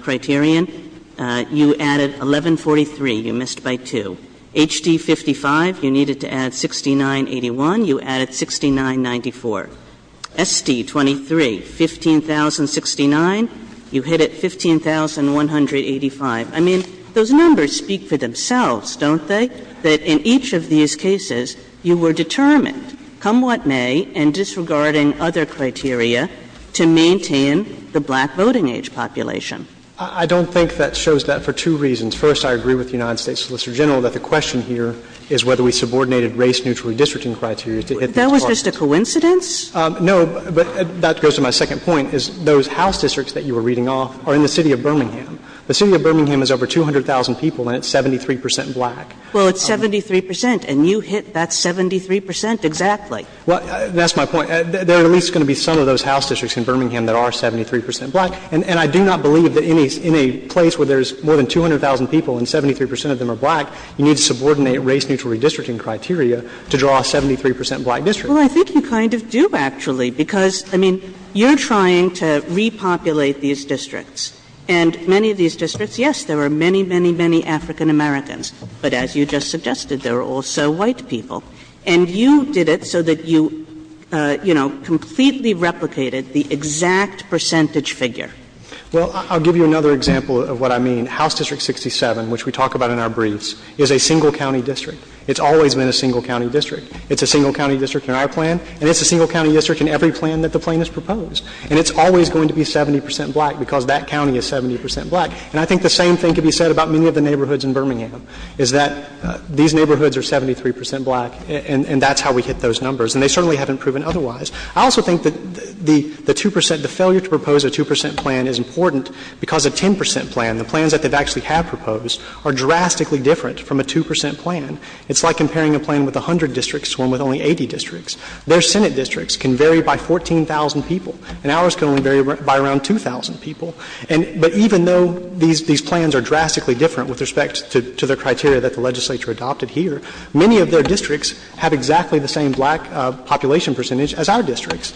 criterion. You added 1,143. You missed by two. H.D. 55, you needed to add 6,981. You added 6,994. S.D. 23, 15,069. You hit at 15,185. I mean, those numbers speak for themselves, don't they? That in each of these cases, you were determined, come what may, in disregarding other criteria, to maintain the black voting age population. I don't think that shows that for two reasons. First, I agree with the United States Solicitor General that the question here is whether we subordinated race neutrally districting criteria. That was just a coincidence? No, but that goes to my second point, is those House districts that you were reading off are in the city of Birmingham. The city of Birmingham has over 200,000 people, and it's 73 percent black. Well, it's 73 percent, and you hit that 73 percent exactly. Well, that's my point. There are at least going to be some of those House districts in Birmingham that are 73 percent black, and I do not believe that in a place where there's more than 200,000 people and 73 percent of them are black, you need to subordinate race neutrally redistricting criteria to draw a 73 percent black district. Well, I think you kind of do, actually, because, I mean, you're trying to repopulate these districts, and many of these districts, yes, there are many, many, many African Americans, but as you just suggested, there are also white people. And you did it so that you, you know, completely replicated the exact percentage figure. Well, I'll give you another example of what I mean. House District 67, which we talk about in our briefs, is a single-county district. It's always been a single-county district. It's a single-county district in our plan, and it's a single-county district in every plan that the plan has proposed. And it's always going to be 70 percent black because that county is 70 percent black. And I think the same thing could be said about many of the neighborhoods in Birmingham, is that these neighborhoods are 73 percent black, and that's how we hit those numbers. And they certainly haven't proven otherwise. I also think that the 2 percent, the failure to propose a 2 percent plan is important because a 10 percent plan, the plans that they've actually have proposed, are drastically different from a 2 percent plan. It's like comparing a plan with 100 districts to one with only 80 districts. Their Senate districts can vary by 14,000 people, and ours can only vary by around 2,000 people. But even though these plans are drastically different with respect to the criteria that the legislature adopted here, many of their districts have exactly the same black population percentage as our districts.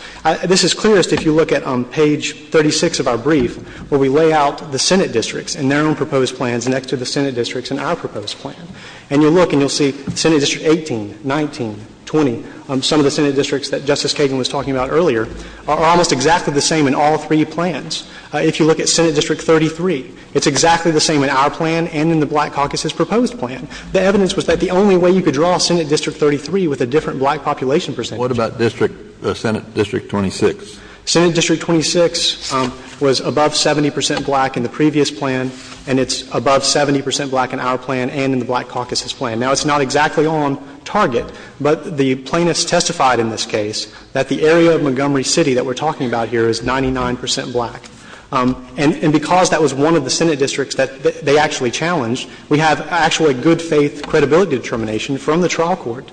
This is clearest if you look at page 36 of our brief where we lay out the Senate districts and their own proposed plans next to the Senate districts in our proposed plan. And you'll look and you'll see Senate District 18, 19, 20, some of the Senate districts that Justice Kagan was talking about earlier, are almost exactly the same in all three plans. If you look at Senate District 33, it's exactly the same in our plan and in the black caucus's proposed plan. The evidence was that the only way you could draw Senate District 33 with a different black population percentage. What about Senate District 26? Senate District 26 was above 70 percent black in the previous plan, and it's above 70 percent black in our plan and in the black caucus's plan. Now, it's not exactly on target, but the plaintiffs testified in this case that the area of Montgomery City that we're talking about here is 99 percent black. And because that was one of the Senate districts that they actually challenged, we have actually good faith credibility determination from the trial court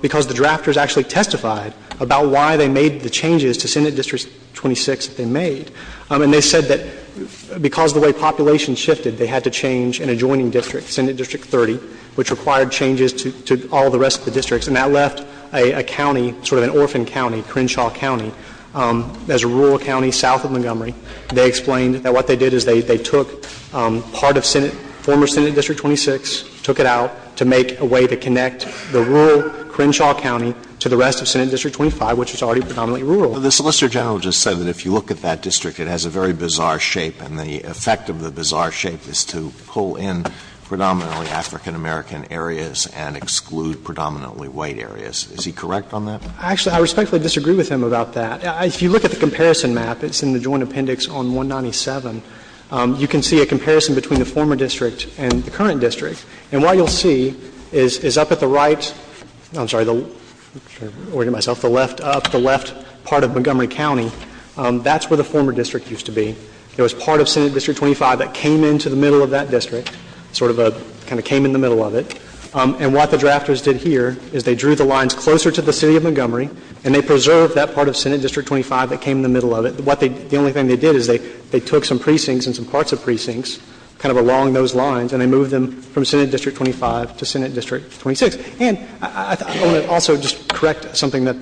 because the drafters actually testified about why they made the changes to Senate District 26 they made. And they said that because of the way population shifted, they had to change an adjoining district, Senate District 30, which required changes to all the rest of the districts, and that left a county, sort of an orphan county, Crenshaw County, as a rural county south of Montgomery. They explained that what they did is they took part of Senate, former Senate District 26, took it out to make a way to connect the rural Crenshaw County to the rest of Senate District 25, which was already predominantly rural. The Solicitor General just said that if you look at that district, it has a very bizarre shape, and the effect of the bizarre shape is to pull in predominantly African American areas and exclude predominantly white areas. Is he correct on that? Actually, I respectfully disagree with him about that. If you look at the comparison map, it's in the Joint Appendix on 197, you can see a comparison between the former district and the current district. And what you'll see is up at the right, I'm sorry, I'm ordering myself, the left up, the left part of Montgomery County, that's where the former district used to be. Sort of a, kind of came in the middle of it. And what the drafters did here is they drew the lines closer to the city of Montgomery and they preserved that part of Senate District 25 that came in the middle of it. The only thing they did is they took some precincts and some parts of precincts, kind of along those lines, and they moved them from Senate District 25 to Senate District 26. And I want to also just correct something that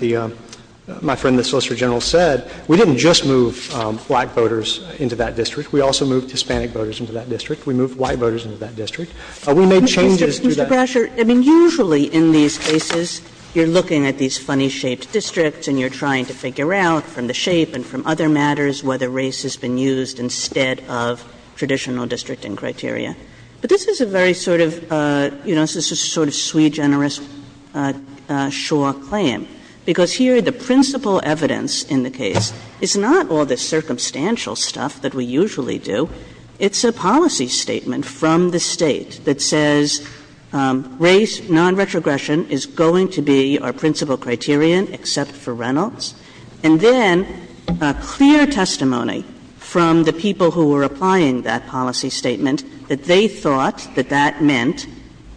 my friend the Solicitor General said. We didn't just move white voters into that district. We also moved Hispanic voters into that district. We moved white voters into that district. We made changes to that. Mr. Grasher, I mean, usually in these cases, you're looking at these funny-shaped districts and you're trying to figure out from the shape and from other matters whether race has been used instead of traditional districting criteria. But this is a very sort of, you know, this is a sort of sui generis sure claim. Because here the principal evidence in the case is not all the circumstantial stuff that we usually do. It's a policy statement from the state that says race non-retrogression is going to be our principal criterion except for Reynolds. And then a clear testimony from the people who were applying that policy statement that they thought that that meant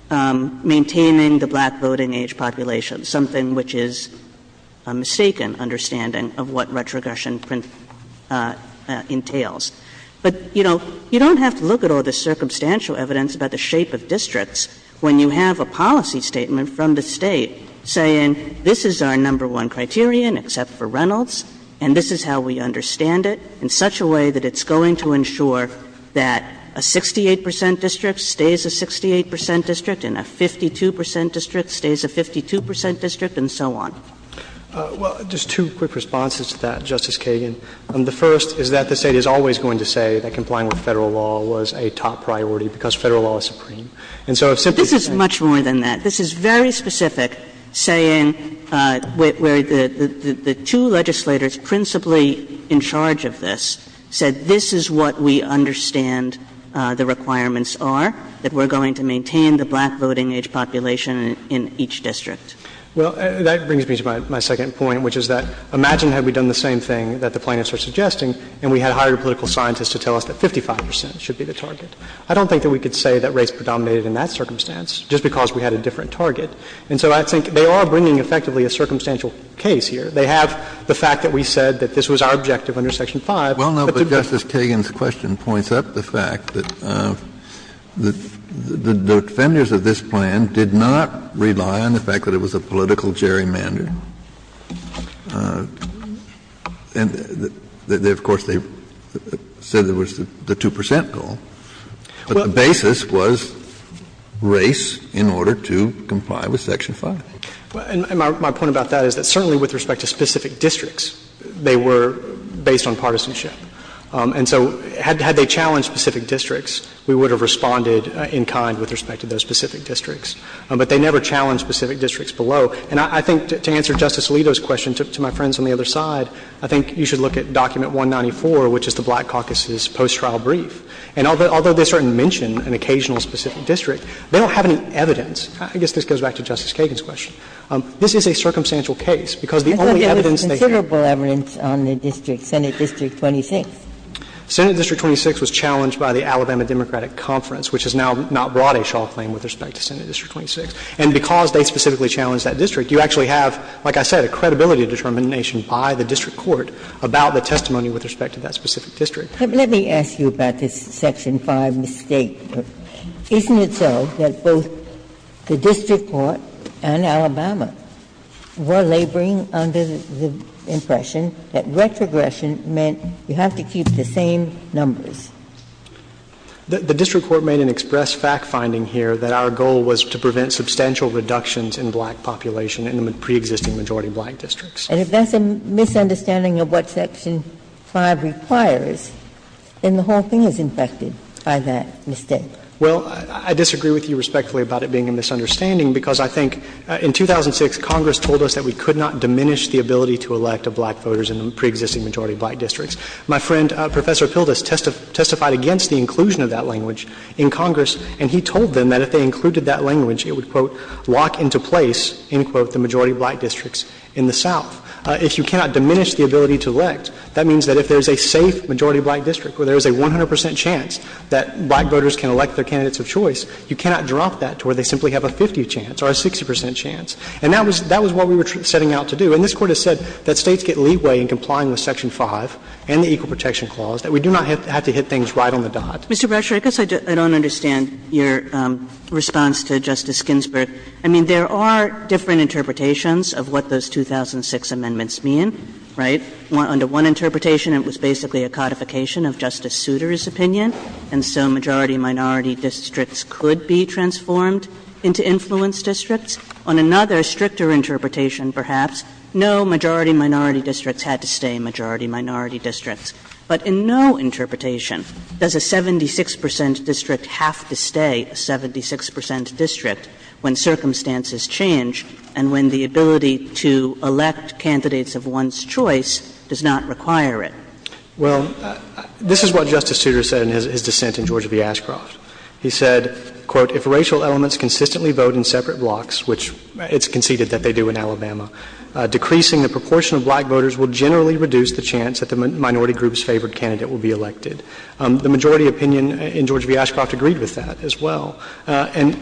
maintaining the black voting age population, something which is a mistaken understanding of what retrogression entails. But, you know, you don't have to look at all the circumstantial evidence about the shape of districts when you have a policy statement from the state saying this is our number one criterion except for Reynolds and this is how we understand it in such a way that it's going to ensure that a 68 percent district stays a 68 percent district and a 52 percent district stays a 52 percent district and so on. Well, just two quick responses to that, Justice Kagan. The first is that the state is always going to say that complying with federal law was a top priority because federal law is supreme. So this is much more than that. This is very specific saying where the two legislators principally in charge of this said this is what we understand the requirements are, that we're going to maintain the black voting age population in each district. Well, that brings me to my second point, which is that imagine had we done the same thing that the plaintiffs are suggesting and we had higher political scientists to tell us that 55 percent should be the target. I don't think that we could say that race predominated in that circumstance just because we had a different target. And so I think they are bringing effectively a circumstantial case here. They have the fact that we said that this was our objective under Section 5. Well, no, but Justice Kagan's question points up the fact that the defenders of this plan did not rely on the fact that it was a political gerrymandering. And, of course, they said there was the 2 percent goal, but the basis was race in order to comply with Section 5. And my point about that is that certainly with respect to specific districts, they were based on partisanship. And so had they challenged specific districts, we would have responded in kind with respect to those specific districts. But they never challenged specific districts below. And I think to answer Justice Alito's question, to my friends on the other side, I think you should look at Document 194, which is the Black Caucus's post-trial brief. And although they certainly mention an occasional specific district, they don't have any evidence. I guess this goes back to Justice Kagan's question. This is a circumstantial case because the only evidence they have— Senate District 26 was challenged by the Alabama Democratic Conference, which has now not brought a shawl frame with respect to Senate District 26. And because they specifically challenged that district, you actually have, like I said, a credibility determination by the district court about the testimony with respect to that specific district. Let me ask you about this Section 5 mistake. Isn't it so that both the district court and Alabama were laboring under the impression that retrogression meant you have to keep the same numbers? The district court made an express fact-finding here that our goal was to prevent substantial reductions in black population in the pre-existing majority black districts. And if that's a misunderstanding of what Section 5 requires, then the whole thing is infested by that mistake. Well, I disagree with you respectfully about it being a misunderstanding because I think in 2006, Congress told us that we could not diminish the ability to elect black voters in the pre-existing majority black districts. My friend, Professor Pildes, testified against the inclusion of that language in Congress, and he told them that if they included that language, it would, quote, walk into place, end quote, the majority black districts in the South. If you cannot diminish the ability to elect, that means that if there is a safe majority black district where there is a 100 percent chance that black voters can elect their candidates of choice, you cannot drop that to where they simply have a 50 chance or a 60 percent chance. And that was what we were setting out to do. And this Court has said that states get leeway in complying with Section 5 and the Equal Protection Clause, that we do not have to hit things right on the dot. Mr. Brasher, I guess I don't understand your response to Justice Ginsburg. I mean, there are different interpretations of what those 2006 amendments mean, right? Under one interpretation, it was basically a codification of Justice Souter's opinion, and so majority minority districts could be transformed into influence districts. On another, stricter interpretation, perhaps, no majority minority districts had to stay majority minority districts. But in no interpretation does a 76 percent district have to stay a 76 percent district when circumstances change and when the ability to elect candidates of one's choice does not require it. Well, this is what Justice Souter said in his dissent in Georgia v. Ashcroft. He said, quote, if racial elements consistently vote in separate blocks, which it's conceded that they do in Alabama, decreasing the proportion of black voters would generally reduce the chance that the minority group's favorite candidate will be elected. The majority opinion in Georgia v. Ashcroft agreed with that as well. And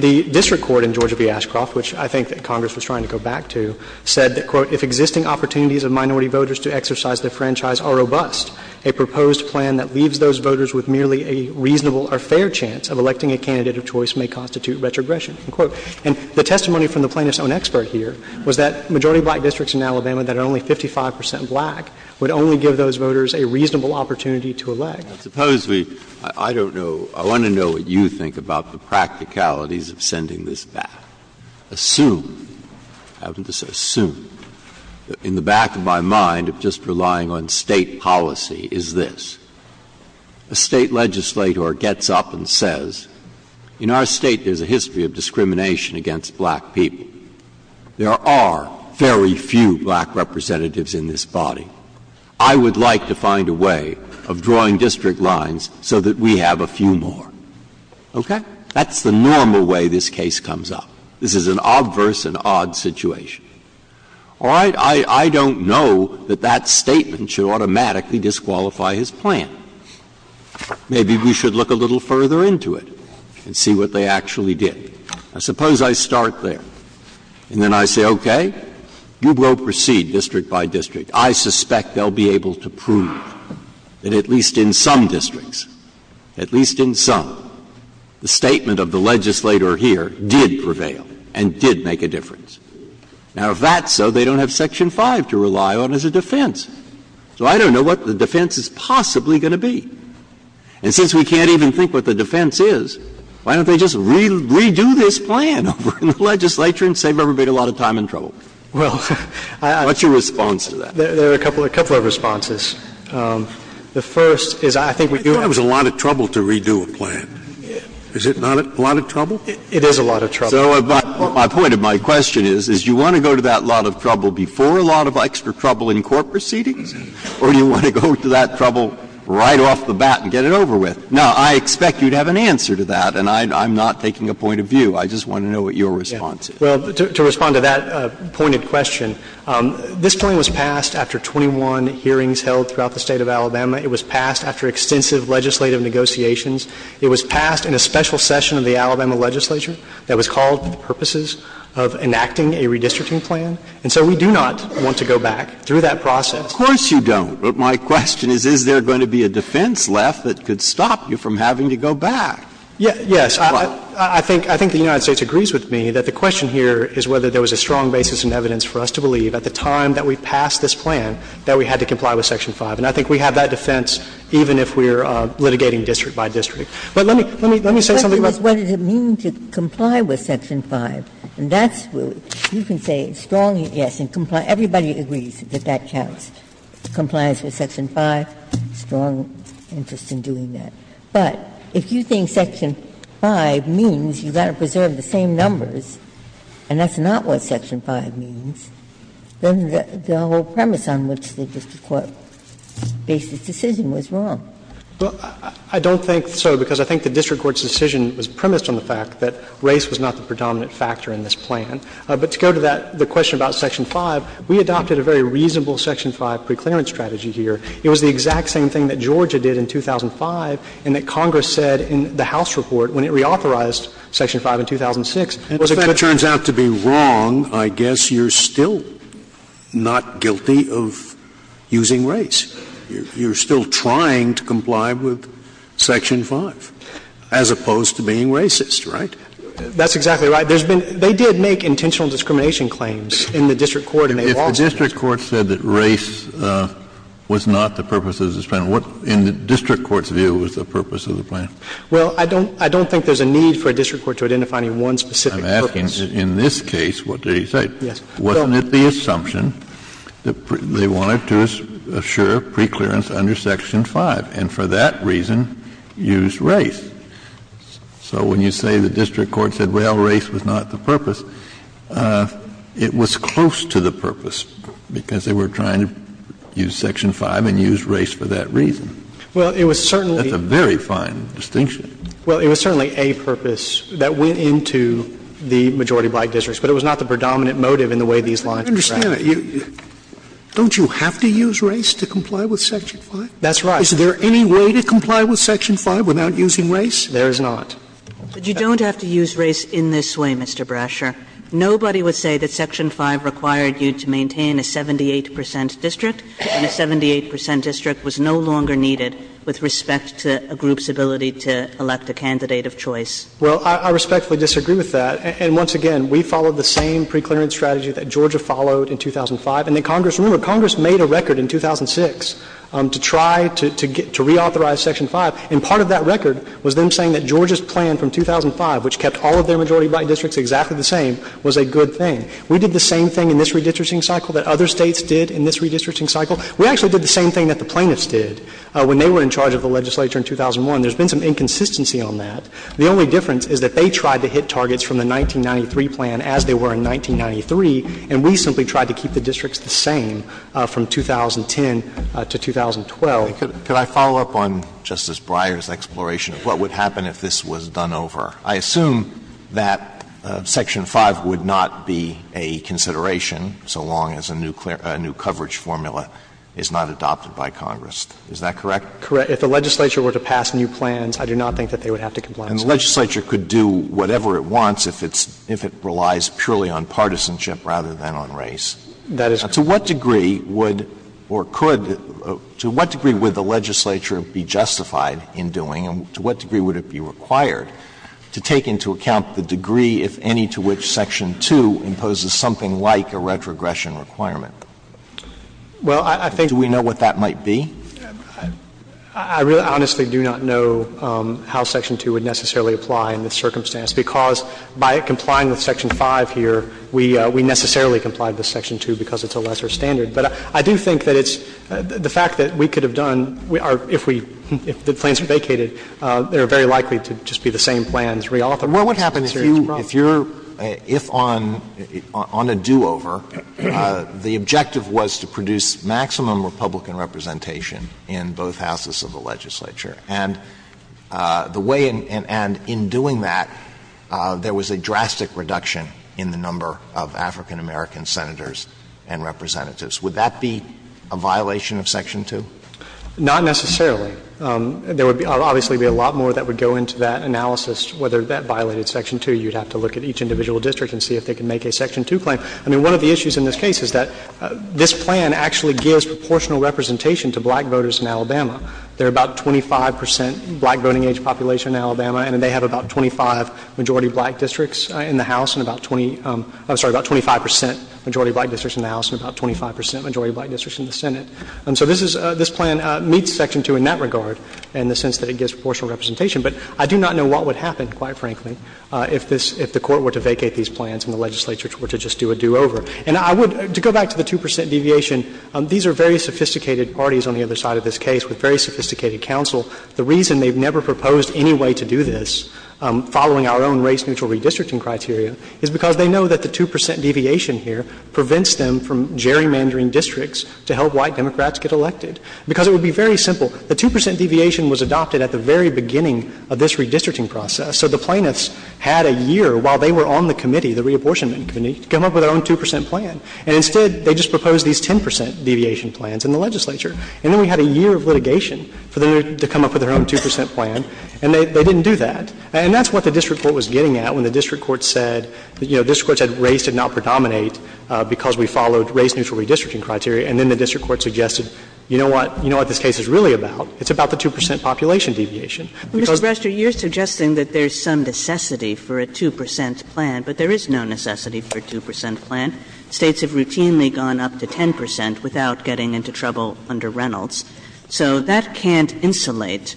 the district court in Georgia v. Ashcroft, which I think that Congress was trying to go back to, said that, quote, if existing opportunities of minority voters to exercise their franchise are robust, a proposed plan that leaves those voters with merely a reasonable or fair chance of electing a candidate of choice may constitute retrogression, unquote. And the testimony from the plaintiff's own expert here was that majority black districts in Alabama that are only 55 percent black would only give those voters a reasonable opportunity to elect. Supposedly, I don't know, I want to know what you think about the practicalities of sending this back. I assume, in the back of my mind of just relying on state policy, is this. A state legislator gets up and says, in our state there's a history of discrimination against black people. There are very few black representatives in this body. I would like to find a way of drawing district lines so that we have a few more. Okay? That's the normal way this case comes up. This is an obverse and odd situation. All right, I don't know that that statement should automatically disqualify his plan. Maybe we should look a little further into it and see what they actually did. I suppose I start there, and then I say, okay, you will proceed district by district. I suspect they'll be able to prove that at least in some districts, at least in some, the statement of the legislator here did prevail and did make a difference. Now, if that's so, they don't have Section 5 to rely on as a defense. So I don't know what the defense is possibly going to be. And since we can't even think what the defense is, why don't they just redo this plan over in the legislature and save everybody a lot of time and trouble? What's your response to that? There are a couple of responses. The first is I think we do have a lot of trouble to redo a plan. Is it not a lot of trouble? It is a lot of trouble. My point of my question is, is you want to go to that lot of trouble before a lot of extra trouble in court proceedings, or you want to go to that trouble right off the bat and get it over with? Now, I expect you to have an answer to that, and I'm not taking a point of view. I just want to know what your response is. Well, to respond to that pointed question, this time was passed after 21 hearings held throughout the state of Alabama. It was passed after extensive legislative negotiations. It was passed in a special session of the Alabama legislature that was called for the purposes of enacting a redistricting plan. And so we do not want to go back through that process. Of course you don't. But my question is, is there going to be a defense left that could stop you from having to go back? Yes. Why? Well, I think the United States agrees with me that the question here is whether there was a strong basis in evidence for us to believe at the time that we passed this plan that we had to comply with Section 5. And I think we have that defense even if we're litigating district by district. But let me say something else. What does it mean to comply with Section 5? And that's where you can say strongly, yes, and comply. Everybody agrees that that counts. Compliance with Section 5, strong interest in doing that. But if you think Section 5 means you've got to preserve the same numbers, and that's not what Section 5 means, then there's no premise on which the district court's basic decision was wrong. Well, I don't think so because I think the district court's decision was premised on the fact that race was not the predominant factor in this plan. But to go to that, the question about Section 5, we adopted a very reasonable Section 5 preclearance strategy here. It was the exact same thing that Georgia did in 2005 and that Congress said in the House report when it reauthorized Section 5 in 2006. If that turns out to be wrong, I guess you're still not guilty of using race. You're still trying to comply with Section 5 as opposed to being racist, right? That's exactly right. They did make intentional discrimination claims in the district court. If the district court said that race was not the purpose of this plan, in the district court's view, what was the purpose of the plan? Well, I don't think there's a need for a district court to identify any one specific purpose. I'm asking that in this case, what did they say? Wasn't it the assumption that they wanted to assure preclearance under Section 5 and for that reason use race? So when you say the district court said, well, race was not the purpose, it was close to the purpose because they were trying to use Section 5 and use race for that reason. That's a very fine distinction. Well, it was certainly a purpose that went into the majority of white districts, but it was not the predominant motive in the way these lines were drafted. I don't understand it. Don't you have to use race to comply with Section 5? That's right. Is there any way to comply with Section 5 without using race? There is not. You don't have to use race in this way, Mr. Brasher. Nobody would say that Section 5 required you to maintain a 78 percent district and a 78 percent district was no longer needed with respect to a group's ability to elect a candidate of choice. Well, I respectfully disagree with that. And once again, we followed the same preclearance strategy that Georgia followed in 2005. And Congress made a record in 2006 to try to reauthorize Section 5, and part of that record was them saying that Georgia's plan from 2005, which kept all of their majority white districts exactly the same, was a good thing. We did the same thing in this redistricting cycle that other states did in this redistricting cycle. We actually did the same thing that the plaintiffs did when they were in charge of the legislature in 2001. There's been some inconsistency on that. The only difference is that they tried to hit targets from the 1993 plan as they were in 1993, and we simply tried to keep the districts the same from 2010 to 2012. Could I follow up on Justice Breyer's exploration of what would happen if this was done over? I assume that Section 5 would not be a consideration so long as a new coverage formula is not adopted by Congress. Is that correct? Correct. If the legislature were to pass new plans, I do not think that they would have to comply with Section 5. And the legislature could do whatever it wants if it relies purely on partisanship rather than on race. To what degree would the legislature be justified in doing, and to what degree would it be required to take into account the degree, if any, to which Section 2 imposes something like a retrogression requirement? Do we know what that might be? I really honestly do not know how Section 2 would necessarily apply in this circumstance because by it complying with Section 5 here, we necessarily comply with Section 2 because it's a lesser standard. But I do think that it's the fact that we could have done — if the plans vacated, they're very likely to just be the same plans reauthored. Well, what happens there? If on a do-over, the objective was to produce maximum Republican representation in both houses of the legislature, and in doing that, there was a drastic reduction in the number of African-American senators and representatives. Would that be a violation of Section 2? Not necessarily. There would obviously be a lot more that would go into that analysis, whether that violated Section 2. You'd have to look at each individual district and see if they can make a Section 2 plan. I mean, one of the issues in this case is that this plan actually gives proportional representation to black voters in Alabama. There are about 25 percent black voting age population in Alabama, and they have about 25 majority black districts in the House and about 20 — I'm sorry, about 25 percent majority black districts in the House and about 25 percent majority black districts in the Senate. So this is — this plan meets Section 2 in that regard in the sense that it gives proportional representation. But I do not know what would happen, quite frankly, if this — if the Court were to vacate these plans and the legislature were to just do a do-over. And I would — to go back to the 2 percent deviation, these are very sophisticated parties on the other side of this case with very sophisticated counsel. The reason they've never proposed any way to do this following our own race-neutral redistricting criteria is because they know that the 2 percent deviation here prevents them from gerrymandering districts to help white Democrats get elected, because it would be very simple. The 2 percent deviation was adopted at the very beginning of this redistricting process, so the plaintiffs had a year while they were on the committee, the reabortion committee, to come up with their own 2 percent plan. And instead, they just proposed these 10 percent deviation plans in the legislature. And then we had a year of litigation for them to come up with their own 2 percent plan, and they didn't do that. And that's what the district court was getting at when the district court said, you know, because we followed race-neutral redistricting criteria. And then the district court suggested, you know what? You know what this case is really about. It's about the 2 percent population deviation. Mr. Brester, you're suggesting that there's some necessity for a 2 percent plan, but there is no necessity for a 2 percent plan. States have routinely gone up to 10 percent without getting into trouble under Reynolds. So that can't insulate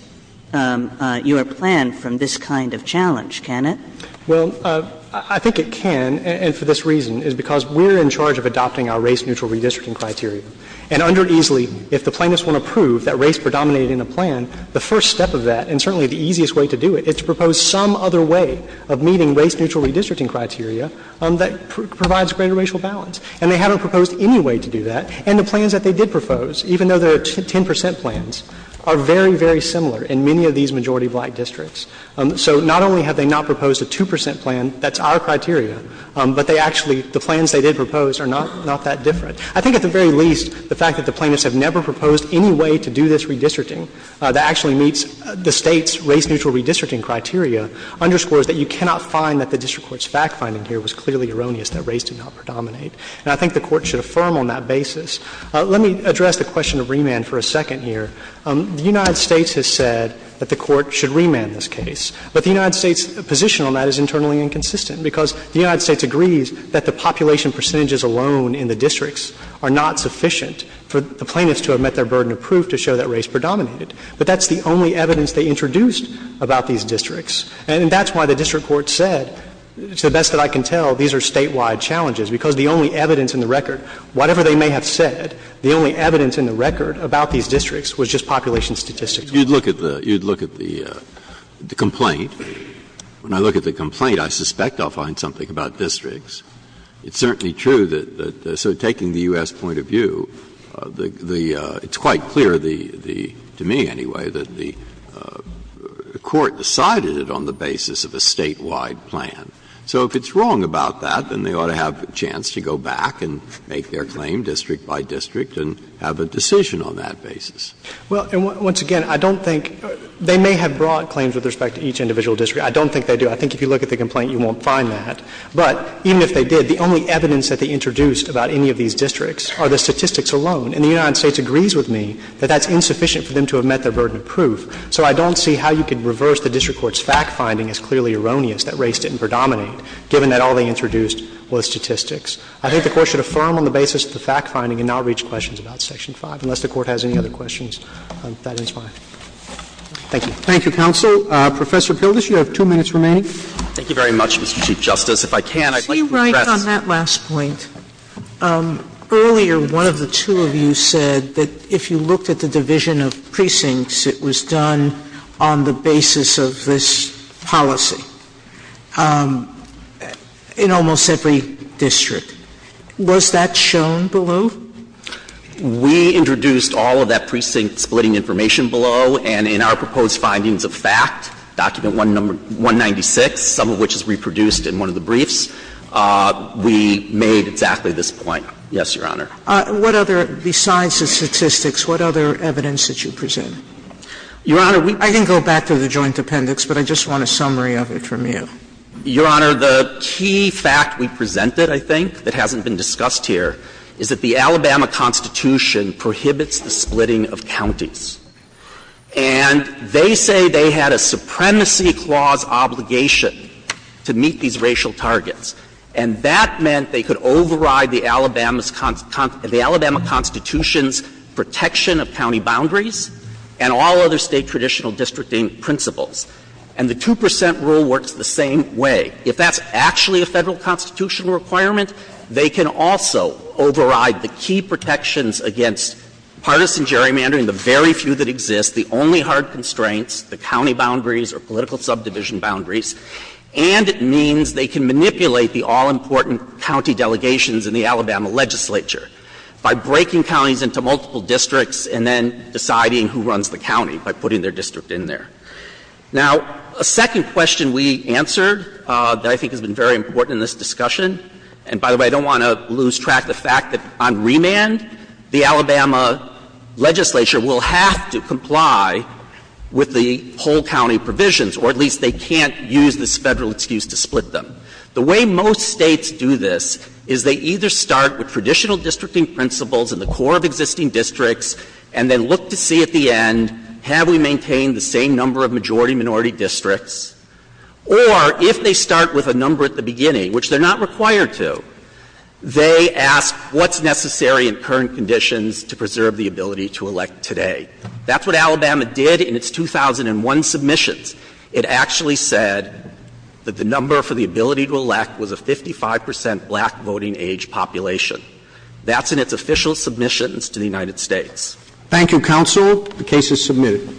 your plan from this kind of challenge, can it? Well, I think it can, and for this reason, is because we're in charge of adopting our race-neutral redistricting criteria. And under Easley, if the plaintiffs want to prove that race predominated in the plan, the first step of that, and certainly the easiest way to do it, is to propose some other way of meeting race-neutral redistricting criteria that provides greater racial balance. And they haven't proposed any way to do that. And the plans that they did propose, even though they're 10 percent plans, are very, very similar in many of these majority of white districts. So not only have they not proposed a 2 percent plan, that's our criteria, but they actually — the plans they did propose are not that different. I think at the very least, the fact that the plaintiffs have never proposed any way to do this redistricting that actually meets the State's race-neutral redistricting criteria underscores that you cannot find that the district court's fact-finding here was clearly erroneous that race did not predominate. And I think the Court should affirm on that basis. Let me address the question of remand for a second here. The United States has said that the Court should remand this case, but the United States' position on that is internally inconsistent because the United States agrees that the population percentages alone in the districts are not sufficient for the plaintiffs to have met their burden of proof to show that race predominated. But that's the only evidence they introduced about these districts. And that's why the district court said, to the best that I can tell, these are statewide challenges, because the only evidence in the record, whatever they may have said, the only evidence in the record about these districts was just population statistics. You'd look at the complaint. When I look at the complaint, I suspect I'll find something about districts. It's certainly true that sort of taking the U.S. point of view, it's quite clear, to me anyway, that the Court decided it on the basis of a statewide plan. So if it's wrong about that, then they ought to have a chance to go back and make their claim district by district and have a decision on that basis. Well, and once again, I don't think they may have brought claims with respect to each individual district. I don't think they do. I think if you look at the complaint, you won't find that. But even if they did, the only evidence that they introduced about any of these districts are the statistics alone. And the United States agrees with me that that's insufficient for them to have met their burden of proof. So I don't see how you could reverse the district court's fact-finding as clearly erroneous that race didn't predominate, given that all they introduced was statistics. I think the Court should affirm on the basis of the fact-finding and not reach questions about Section 5. Unless the Court has any other questions, that is fine. Thank you. Thank you, Counsel. Professor Pildes, you have two minutes remaining. Thank you very much, Chief Justice. If I can, I'd like to address... Let me write on that last point. Earlier, one of the two of you said that if you looked at the division of precincts, it was done on the basis of this policy in almost every district. Was that shown below? We introduced all of that precinct-splitting information below. And in our proposed findings of fact, Document 196, some of which is reproduced in one of the briefs, we made exactly this point. Yes, Your Honor. Besides the statistics, what other evidence did you present? Your Honor, we... I didn't go back to the joint appendix, but I just want a summary of it from you. Your Honor, the key fact we presented, I think, that hasn't been discussed here, is that the Alabama Constitution prohibits the splitting of counties. And they say they had a supremacy clause obligation to meet these racial targets. And that meant they could override the Alabama Constitution's protection of county boundaries and all other state traditional districting principles. And the 2% rule works the same way. If that's actually a federal constitutional requirement, they can also override the key protections against partisan gerrymandering, the very few that exist, the only hard constraints, the county boundaries or political subdivision boundaries, and it means they can manipulate the all-important county delegations in the Alabama legislature by breaking counties into multiple districts and then deciding who runs the county by putting their district in there. Now, a second question we answered that I think has been very important in this discussion, and by the way, I don't want to lose track of the fact that on remand, the Alabama legislature will have to comply with the whole county provisions, or at least they can't use this federal excuse to split them. The way most states do this is they either start with traditional districting principles in the core of existing districts and then look to see at the end, have we maintained the same number of majority-minority districts? Or if they start with a number at the beginning, which they're not required to, they ask what's necessary in current conditions to preserve the ability to elect today. That's what Alabama did in its 2001 submissions. It actually said that the number for the ability to elect was a 55% black voting-age population. That's in its official submissions to the United States. Thank you, counsel. The case is submitted.